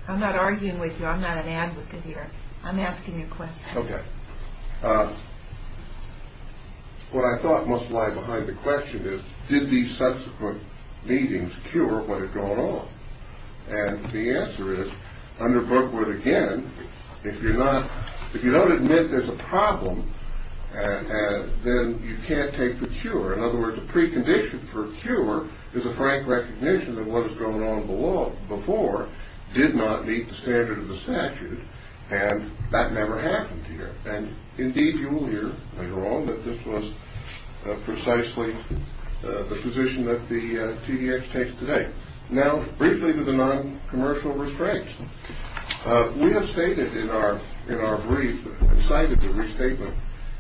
I'm not arguing with you. I'm not an advocate here. I'm asking you a question. Okay. What I thought must lie behind the question is, did these subsequent meetings cure what had gone on? And the answer is, under Brookwood, again, if you don't admit there's a problem, then you can't take the cure. In other words, the precondition for cure is a frank recognition that what has gone on before did not meet the standard of the statute, and that never happened here. And, indeed, you will hear later on that this was precisely the position that the TDX takes today. Now, briefly to the non-commercial restraints. We have stated in our brief, cited the restatement,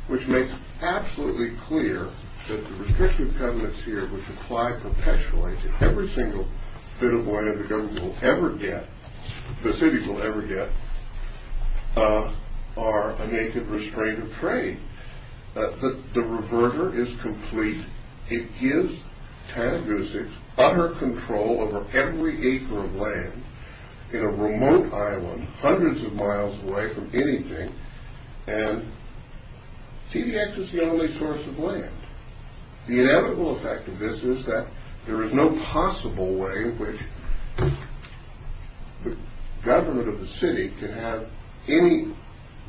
which makes absolutely clear that the restrictive covenants here which apply perpetually to every single bit of money the government will ever get, the city will ever get, are a naked restraint of trade. The reverter is complete. It gives TANF BUSICs utter control over every acre of land in a remote island hundreds of miles away from anything, and TDX is the only source of land. The inevitable effect of this is that there is no possible way in which the government of the city can have any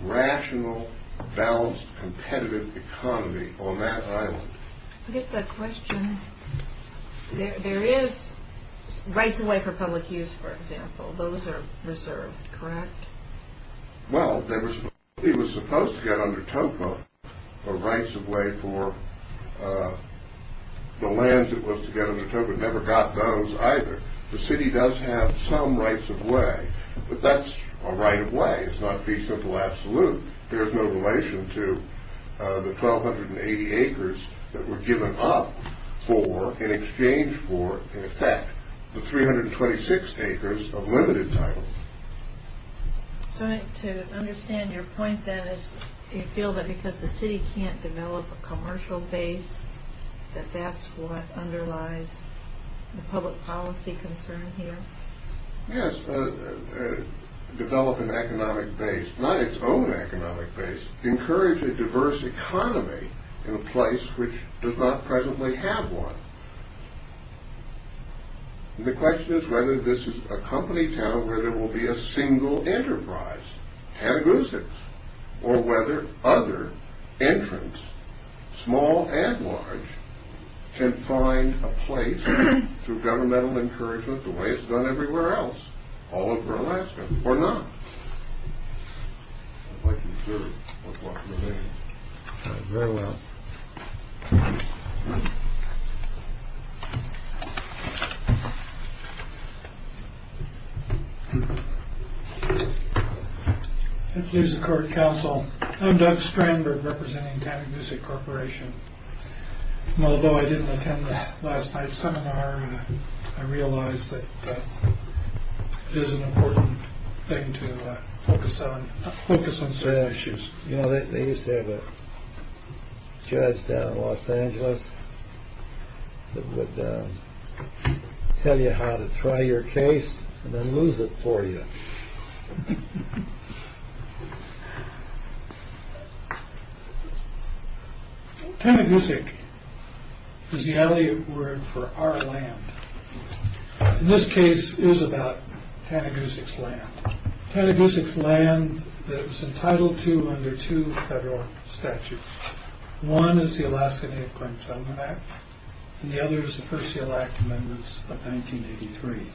rational, balanced, competitive economy on that island. I get that question. There is rights of way for public use, for example. Those are reserved, correct? Well, the city was supposed to get under TOEFL a rights of way for the lands it was to get under TOEFL. It never got those either. The city does have some rights of way, but that's a right of way. It's not the simple absolute. There is no relation to the 1,280 acres that were given up for in exchange for, in effect, the 326 acres of limited title. So to understand your point, then, is you feel that because the city can't develop a commercial base, that that's what underlies the public policy concern here? Yes. Develop an economic base. Not its own economic base. Encourage a diverse economy in a place which does not presently have one. And the question is whether this is a company town where there will be a single enterprise, or whether other entrants, small and large, can find a place through governmental encouragement the way it's done everywhere else, all over Alaska, or not. That's my conclusion. That's what I'm going to make. Thank you very much. Thank you, Mr. Court Counsel. I'm Doug Strandberg, representing TANCBC Corporation. Although I didn't attend last night's seminar, I realize that it is an important thing to focus on sad issues. You know, they used to have a judge down in Los Angeles that would tell you how to try your case and then lose it for you. Panagusic is the alien word for our land. In this case, it was about Panagusic's land. Panagusic's land that it was entitled to under two federal statutes. One is the Alaskan Equal Employment Act, and the other is the First Seal Act Amendments of 1983.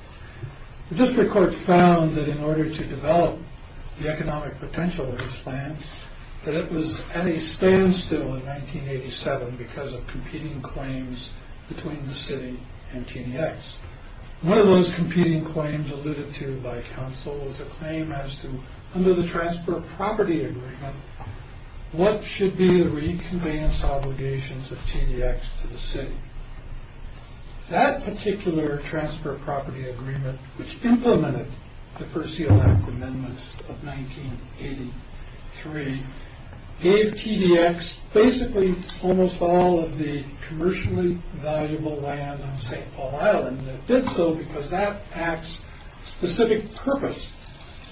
The district court found that in order to develop the economic potential of this land, that it was at a standstill in 1987 because of competing claims between the city and TDX. One of those competing claims alluded to by counsel was a claim as to, under the Transfer of Property Agreement, what should be the reconveyance obligations of TDX to the city. That particular Transfer of Property Agreement, which implemented the First Seal Act Amendments of 1983, gave TDX basically almost all of the commercially valuable land on St. Paul Island, and it did so because that act's specific purpose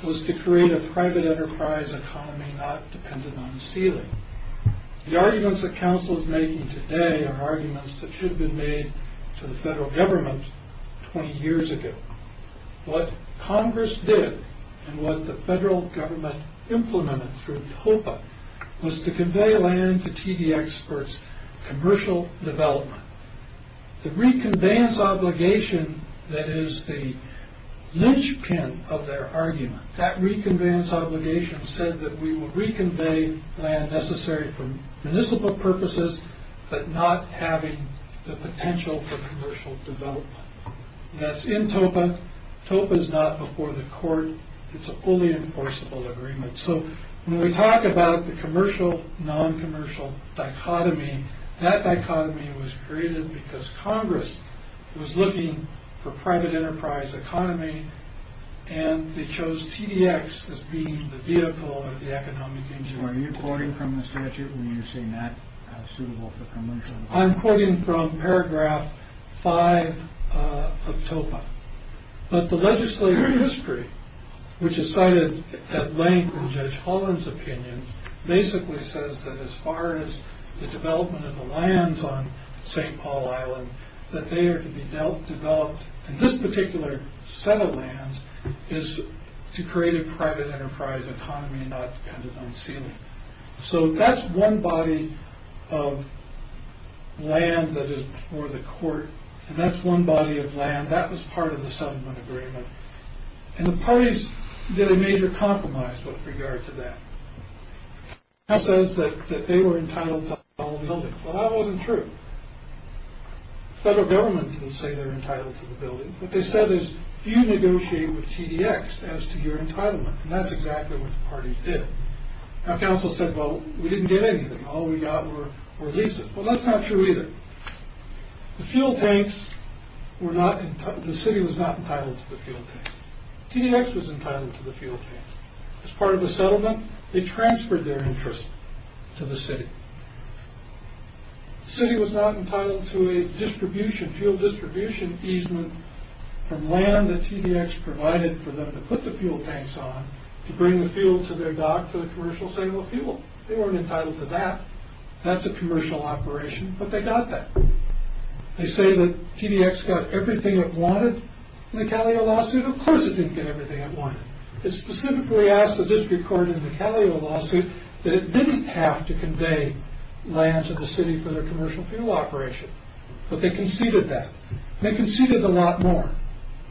was to create a private enterprise economy not dependent on stealing. The arguments that counsel is making today are arguments that should have been made to the federal government 20 years ago. What Congress did, and what the federal government implemented through COPA, was to convey land to TDX for its commercial development. The reconveyance obligation, that is the linchpin of their argument, that reconveyance obligation said that we will reconvey land necessary for municipal purposes, but not having the potential for commercial development. That's in COPA. COPA is not before the court. It's a fully enforceable agreement. So, when we talk about the commercial-noncommercial dichotomy, that dichotomy was created because Congress was looking for private enterprise economy, and they chose TDX as being the vehicle or the economic engine. Are you quoting from the statute when you're saying that's suitable for commercial? I'm quoting from paragraph 5 of COPA. But the legislative history, which is cited at length in Judge Holland's opinion, basically says that as far as the development of the lands on St. Paul Island, that they are to be developed, and this particular set of lands is to create a private enterprise economy, not dependent on ceiling. So, that's one body of land that is before the court, and that's one body of land. That was part of the settlement agreement. And the parties did a major compromise with regard to that. That says that they were entitled to all the buildings. Well, that wasn't true. Federal government didn't say they were entitled to the building. What they said is, do you negotiate with TDX as to your entitlement? And that's exactly what the parties did. Now, counsel said, well, we didn't get anything. All we got were visas. Well, that's not true either. The fuel tanks were not entitled. The city was not entitled to the fuel tanks. TDX was entitled to the fuel tanks. As part of the settlement, they transferred their interest to the city. The city was not entitled to a distribution, fuel distribution easement, from land that TDX provided for them to put the fuel tanks on, to bring the fuel to their dock for the commercial signal fuel. They weren't entitled to that. That's a commercial operation, but they got that. They say that TDX got everything it wanted in the Calais lawsuit. Of course it didn't get everything it wanted. It specifically asked, as it recorded in the Calais lawsuit, that it didn't have to convey land to the city for their commercial fuel operation. But they conceded that. And they conceded a lot more.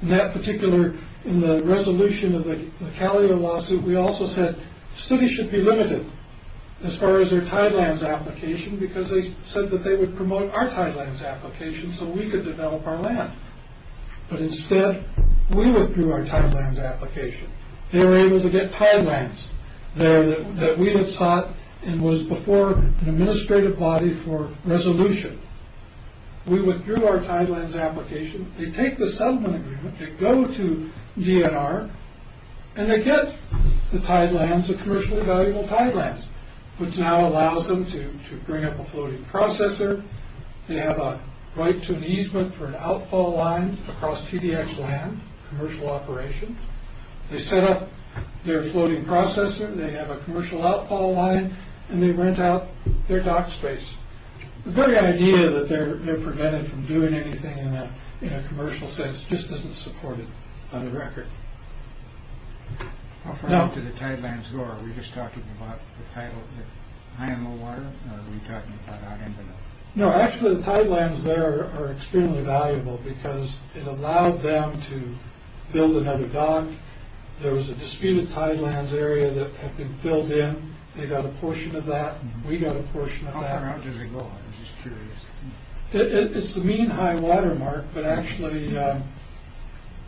In that particular, in the resolution of the Calais lawsuit, we also said cities should be limited as far as their TIDELANDS application, because they said that they would promote our TIDELANDS application so we could develop our land. But instead, we withdrew our TIDELANDS application. They were able to get TIDELANDS there that we had sought, and was before an administrative body for resolution. We withdrew our TIDELANDS application. They take the settlement agreement, they go to DNR, and they get the TIDELANDS, the commercially valuable TIDELANDS, which now allows them to bring up a floating processor. They have a right to an easement for an outfall line across TDX land, commercial operation. They set up their floating processor. They have a commercial outfall line. And they rent out their dock space. The very idea that they're prevented from doing anything in a commercial sense just doesn't support it on the record. Offering up to the TIDELANDS door, are we just talking about the TIDELANDS high in the water, or are we talking about high in the water? No, actually, the TIDELANDS there are extremely valuable because it allowed them to build another dock. There was a disputed TIDELANDS area that had been filled in. They got a portion of that, and we got a portion of that. How far out did they go? I'm just curious. It's a mean high water mark, but actually,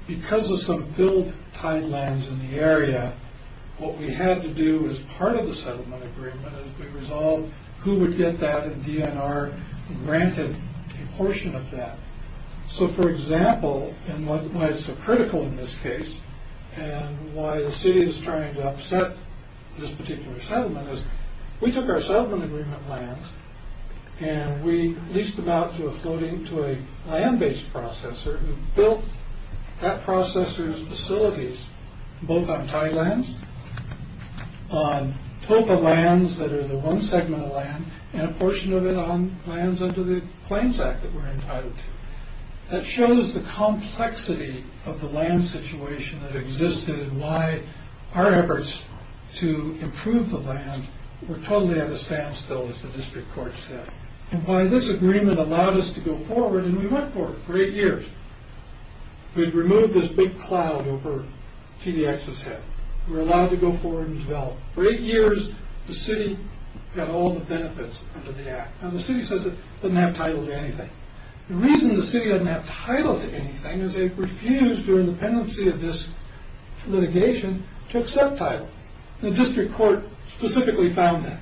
because of some filled TIDELANDS in the area, what we had to do as part of the settlement agreement is we resolved who would get that in DNR and granted a portion of that. So, for example, and why it's so critical in this case and why the city is trying to upset this particular settlement is we took our settlement agreement lands, and we leased them out to a land-based processor, who built that processor's facilities both on TIDELANDS, on TOPA lands that are the one segment of land, and a portion of it on lands under the Plains Act that we're entitled to. That shows the complexity of the land situation that existed and why our efforts to improve the land were totally at a standstill, as the district court said. And why this agreement allowed us to go forward, and we went for it for eight years. We removed this big cloud over TDX's head. We were allowed to go forward and develop. For eight years, the city got all the benefits under the act. Now, the city says it doesn't have title to anything. The reason the city doesn't have title to anything is they refused, during the pendency of this litigation, to accept title. The district court specifically found that.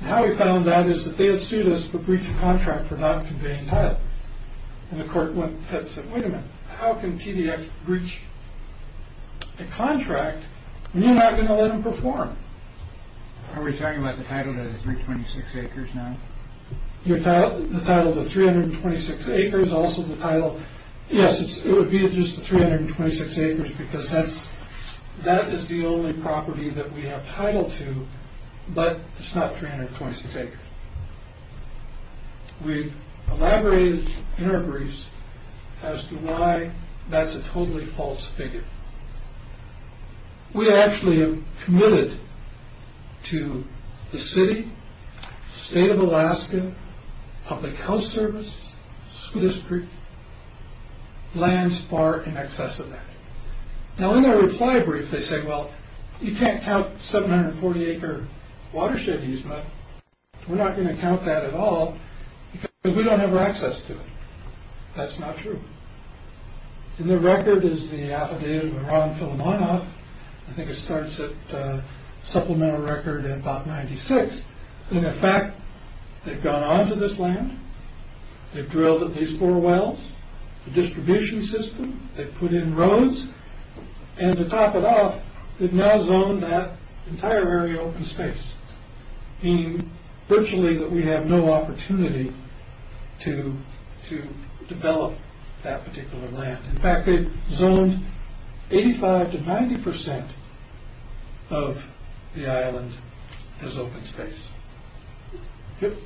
And how we found that is that they had sued us for breach of contract for not conveying title. And the court said, wait a minute, how can TDX breach a contract when you're not going to let them perform? Are we talking about the title to the 326 acres now? The title to the 326 acres, also the title... Yes, it would be just the 326 acres, because that is the only property that we have title to, but it's not 326 acres. We've elaborated in our briefs as to why that's a totally false figure. We actually have committed to the city, state of Alaska, public health service, school district, lands far in excess of that. Now, in their reply brief, they say, well, you can't count 740 acre watershed use, but we're not going to count that at all, because we don't have access to it. That's not true. And their record is the affidavit of Ron Filimonoff. I think it starts at supplemental record at about 96. And in fact, they've gone on to this land, they've drilled at least four wells, the distribution system, they've put in roads, and to top it off, they've now zoned that entire area open space, meaning virtually that we have no opportunity to develop that particular land. In fact, they've zoned 85 to 90% of the island as open space,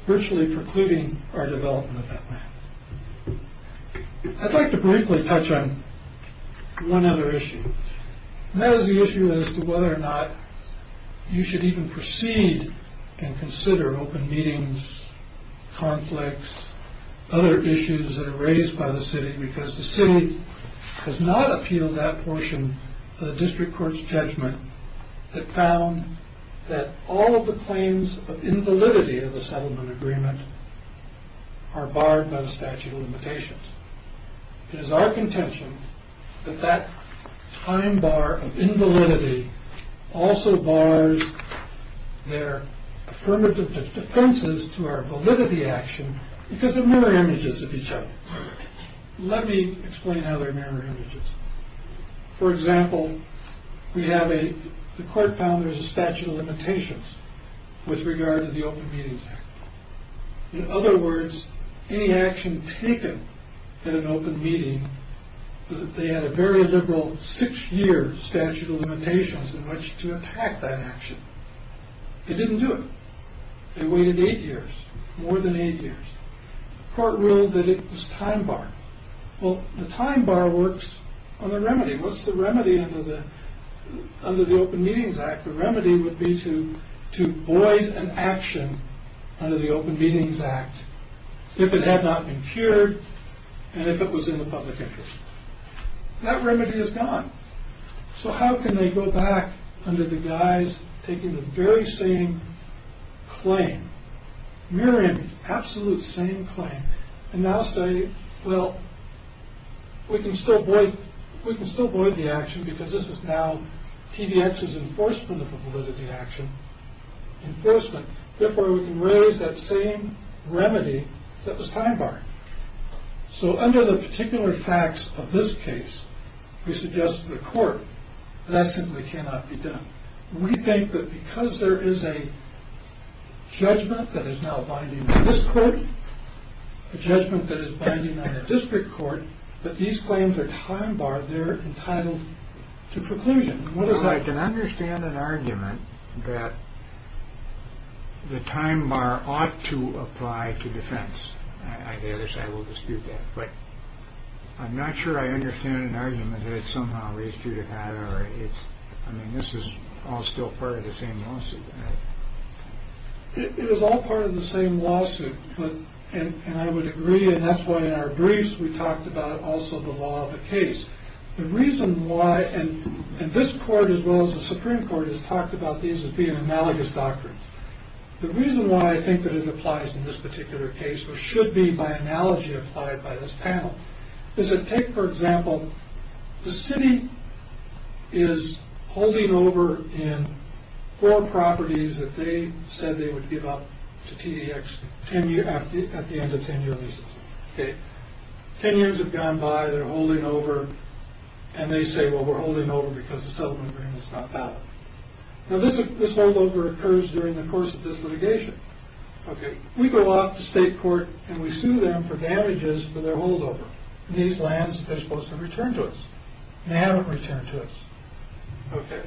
virtually precluding our development of that land. I'd like to briefly touch on one other issue. And that is the issue as to whether or not you should even proceed and consider open meetings, conflicts, other issues that are raised by the city, because the city has not appealed that portion of the district court's judgment that found that all of the claims of invalidity of the settlement agreement are barred by the statute of limitations. It is our contention that that fine bar of invalidity also bars their affirmative defenses to our validity action because of mirror images of each other. Let me explain how there are mirror images. For example, the court found there's a statute of limitations with regard to the Open Meetings Act. In other words, any action taken at an open meeting, they had a very liberal six-year statute of limitations in which to attack that action. They didn't do it. They waited eight years, more than eight years. The court ruled that it was time bar. Well, the time bar works on the remedy. What's the remedy under the Open Meetings Act? The remedy would be to void an action under the Open Meetings Act if it had not been cured and if it was in the public interest. That remedy is gone. So how can they go back under the guise of taking the very same claim? Mirror image, absolute same claim. And now say, well, we can still void the action because this is now TVX's enforcement of a validity action. Enforcement. Therefore, we can release that same remedy that was time bar. So under the particular facts of this case, we suggest to the court that that simply cannot be done. We think that because there is a judgment that is now binding on this court, a judgment that is binding on the district court, that these claims are time bar, they're entitled to preclusion. What if I can understand an argument that the time bar ought to apply to defense? I guess I will dispute that. Right. I'm not sure I understand an argument that it somehow leads to that. I mean, this is all still part of the same lawsuit. It is all part of the same lawsuit, and I would agree, and that's why in our briefs we talked about also the law of the case. The reason why, and this court as well as the Supreme Court has talked about these as being analogous doctrines. The reason why I think that it applies in this particular case or should be by analogy applied by this panel, is that take, for example, the city is holding over in four properties that they said they would give up to TEX at the end of 10 years. Ten years have gone by, they're holding over, and they say, well, we're holding over because the settlement agreement is not valid. Now, this holdover occurs during the course of this litigation. We go off to state court, and we sue them for damages for their holdover. These lands are supposed to return to us, and they haven't returned to us. Okay.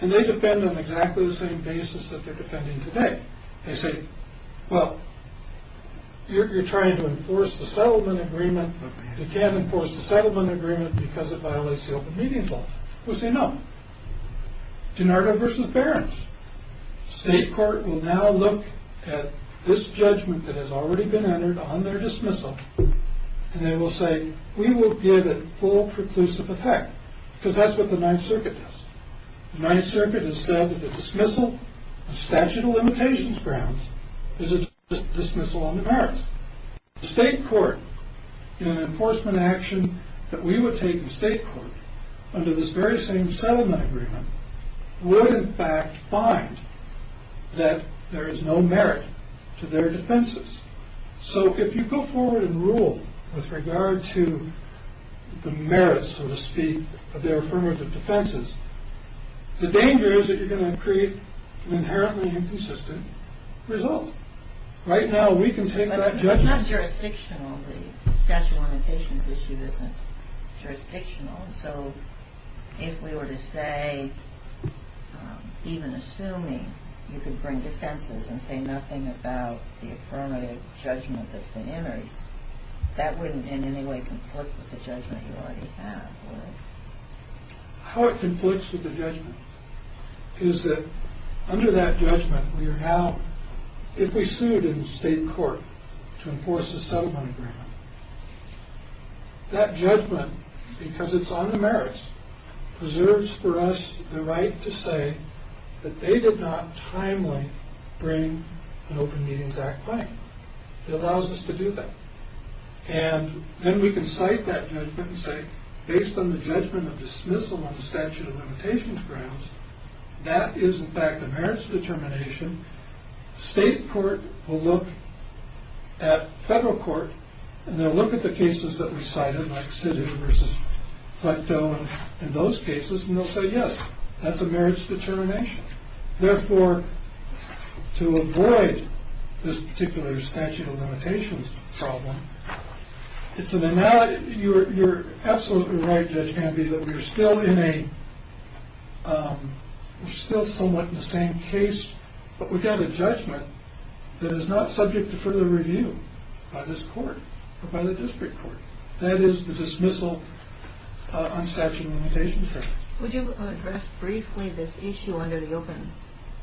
And they defend on exactly the same basis that they're defending today. They say, well, you're trying to enforce the settlement agreement, but you can't enforce the settlement agreement because it violates the open meeting clause. We'll say no. DiNardo versus Behrens. State court will now look at this judgment that has already been entered on their dismissal, and they will say, we will give it full preclusive effect, because that's what the Ninth Circuit does. The Ninth Circuit has said that the dismissal of statute of limitations grounds is a dismissal on the Behrens. The state court in an enforcement action that we would take in state court under this very same settlement agreement would in fact find that there is no merit to their defenses. So if you go forward and rule with regard to the merits, so to speak, of their affirmative defenses, the danger is that you're going to create an inherently inconsistent result. Right now, we can take that judgment. It's not jurisdictional. The statute of limitations issue isn't jurisdictional. So if we were to say, even assuming you can bring defenses and say nothing about the affirmative judgment that's been entered, that wouldn't in any way conflict with the judgment you already have. If we sued in state court to enforce a settlement agreement, that judgment, because it's on the merits, preserves for us the right to say that they did not timely bring an Open Medians Act claim. It allows us to do that. And then we can cite that judgment and say, based on the judgment of dismissal on the statute of limitations grounds, that is, in fact, the merits determination. State court will look at federal court, and they'll look at the cases that we cited, like Siddig versus Flecktone and those cases, and they'll say, yes, that's a merits determination. Therefore, to avoid this particular statute of limitations problem, it's an analogy. You're absolutely right, Judge Canby, that we're still somewhat in the same case, but we've got a judgment that is not subject to further review by this court or by the district court. That is the dismissal on statute of limitations. Would you address briefly this issue under the Open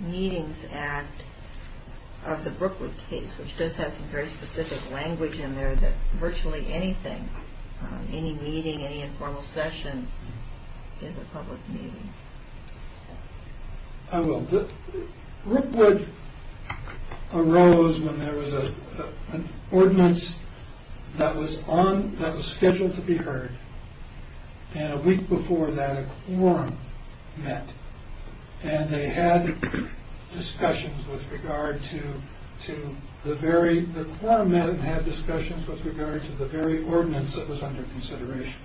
Medians Act of the Brookwood case, which does have some very specific language in there that virtually anything, any meeting, any informal session, is a public meeting? I will. Brookwood arose when there was an ordinance that was scheduled to be heard. And a week before that, a quorum met. And they had discussions with regard to the very ordinance that was under consideration.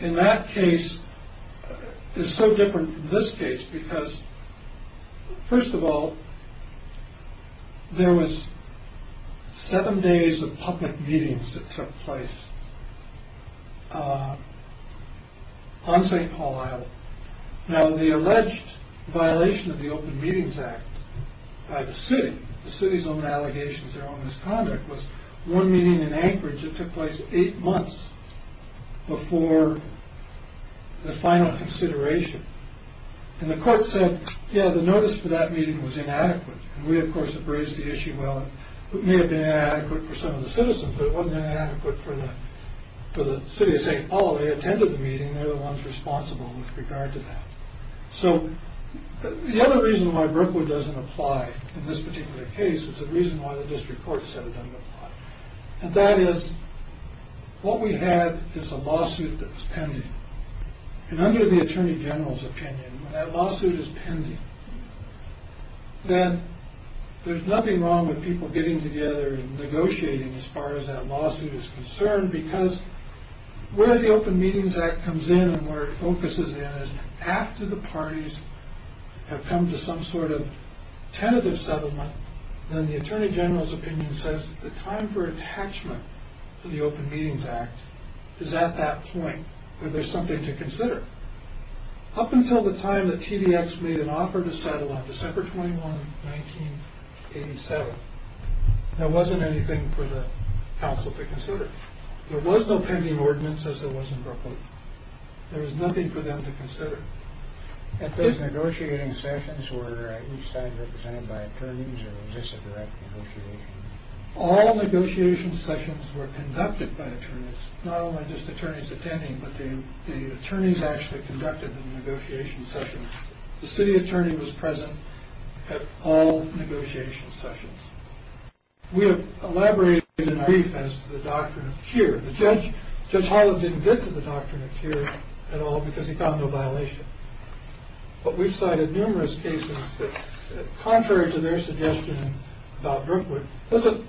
And that case is so different from this case because, first of all, there was seven days of public meetings that took place on St. Paul Isle. Now, the alleged violation of the Open Meetings Act by the city, the city's own allegations around this conduct, was one meeting in Anchorage that took place eight months before the final consideration. And the court said, yeah, the notice for that meeting was inadequate. We, of course, have raised the issue, well, it may have been inadequate for some of the citizens, but it wasn't inadequate for the city of St. Paul. They attended the meeting. They're the ones responsible with regard to that. So the other reason why Brookwood doesn't apply in this particular case is the reason why the district court said it doesn't apply. And that is, what we have is a lawsuit that's pending. And under the attorney general's opinion, that lawsuit is pending. And there's nothing wrong with people getting together and negotiating as far as that lawsuit is concerned because where the Open Meetings Act comes in and where it focuses in is after the parties have come to some sort of tentative settlement, then the attorney general's opinion says the time for attachment to the Open Meetings Act is at that point where there's something to consider. Up until the time that TDX made an offer to settle on December 21, 1987, there wasn't anything for the council to consider. There was no pending ordinance as there was in Brookwood. There was nothing for them to consider. At those negotiating sessions, were each side represented by attorneys or was this a direct negotiation? All negotiation sessions were conducted by attorneys, not only just attorneys attending, but the attorneys actually conducted the negotiation sessions. The city attorney was present at all negotiation sessions. We have elaborated in brief as to the doctrine of cure. Judge Holland didn't get to the doctrine of cure at all because he found no violation. But we've cited numerous cases that, contrary to their suggestion about Brookwood, doesn't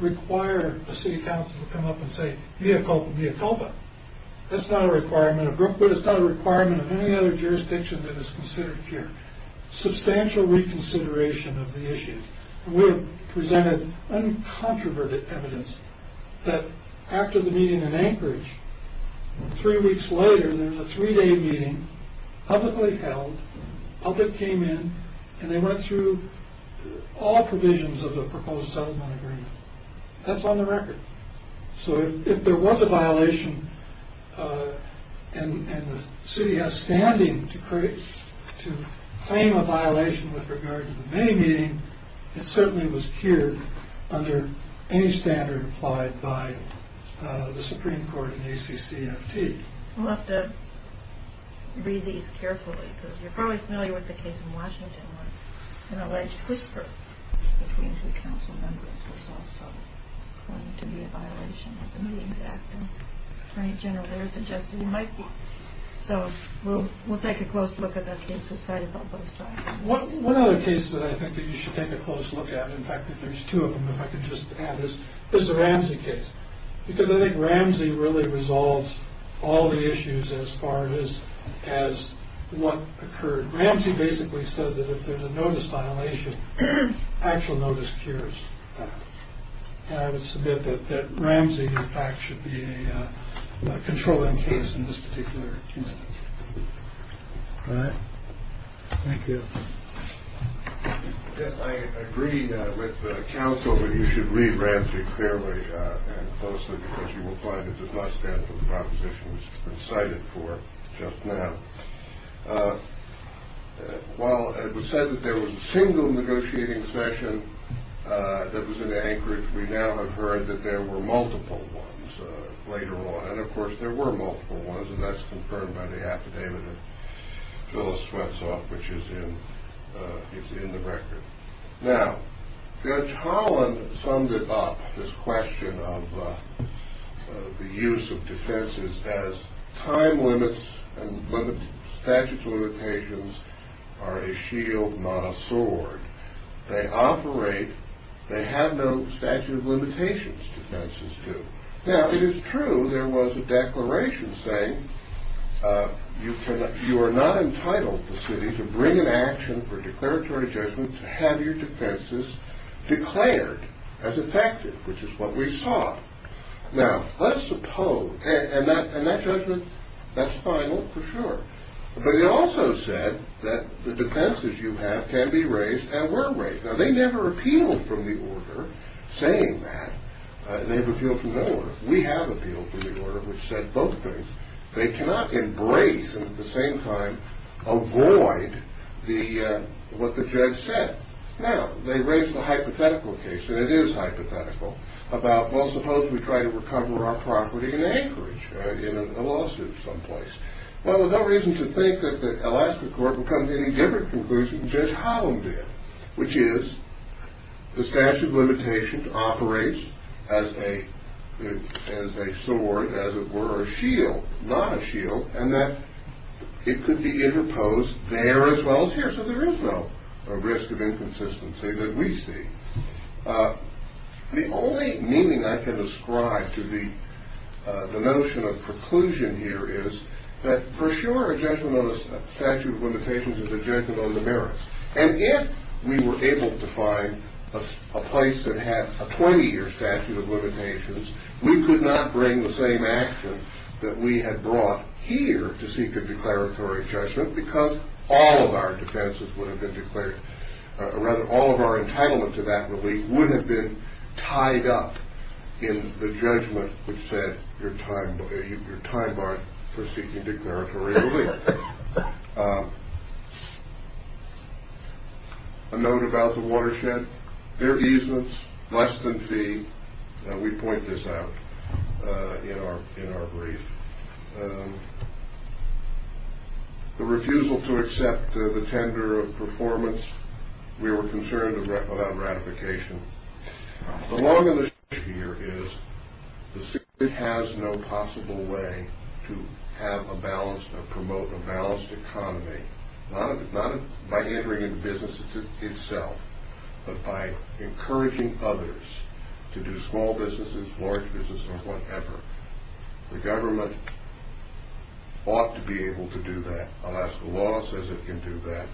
require a city council to come up and say, via culpa, via culpa. That's not a requirement of Brookwood. It's not a requirement of any other jurisdiction that is considered cure. Substantial reconsideration of the issue. We presented uncontroverted evidence that after the meeting in Anchorage, three weeks later, there was a three-day meeting, publicly held, public came in, and they went through all provisions of the proposed settlement agreement. That's on the record. So if there was a violation and the city has standing to claim a violation with regard to the main meeting, it certainly was cured under any standard applied by the Supreme Court in ACC and AP. We'll have to read these carefully because you're probably familiar with the case in Washington where an alleged whisperer of the Kansas City Council members was also found to be a violation of the exact attorney general there suggested it might be. So we'll take a close look at that case. One other case that I think you should take a close look at, in fact there's two of them if I could just add, is the Ramsey case. Because I think Ramsey really resolves all the issues as far as what occurred. Ramsey basically said that if there's a notice violation, actual notice cures. I would submit that Ramsey in fact should be a controlling case in this particular case. All right. Thank you. I agree with counsel that you should read Ramsey fairly closely because you will find it does not stand for the propositions cited for just now. While it was said that there was a single negotiating session that was in Anchorage, we now have heard that there were multiple ones later on. And of course there were multiple ones and that's confirmed by the affidavit of Phyllis Swenson which is in the record. Now, Judge Holland summed it up, this question of the use of defenses as time limits and statute of limitations are a shield, not a sword. They operate, they have no statute of limitations defenses do. Now it is true there was a declaration saying you are not entitled, the city, to bring an action for declaratory judgment to have your defenses declared as effective, which is what we saw. Now, let's suppose, and that judgment, that's final for sure, but it also said that the defenses you have can be raised and were raised. Now they never appealed for the order saying that. They've appealed for no order. We have appealed for the order which said both things. They cannot embrace and at the same time avoid what the judge said. Now, they raised a hypothetical case, and it is hypothetical, about well, suppose we try to recover our property in Anchorage in a lawsuit someplace. Well, there's no reason to think that the Alaska court will come to any different conclusion than Judge Holland did, which is the statute of limitations operates as a sword, as it were, a shield, not a shield, and that it could be interposed there as well as here. So there is no risk of inconsistency that we see. The only meaning I can ascribe to the notion of preclusion here is that for sure a judgment on the statute of limitations is a judgment on the merits. And if we were able to find a place that had a 20-year statute of limitations, we could not bring the same action that we had brought here to seek a declaratory judgment because all of our defenses would have been declared, or rather all of our entitlements of that relief would have been tied up in the judgment which said your time barred for seeking declaratory relief. All right. A note about the watershed. Fair easements, less than fee. We point this out in our brief. The refusal to accept the tender of performance. We were concerned about ratification. The long and the short here is the state has no possible way to have a balanced or promote a balanced economy, not by entering into business itself, but by encouraging others to do small businesses, large businesses, or whatever. The government ought to be able to do that. Alas, the law says it can do that,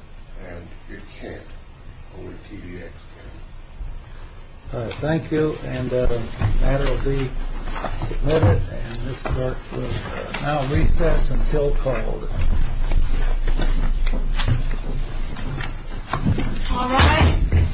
and it can't over TDA. All right. Thank you. And that will be it. And this court will now recess until call. All rise.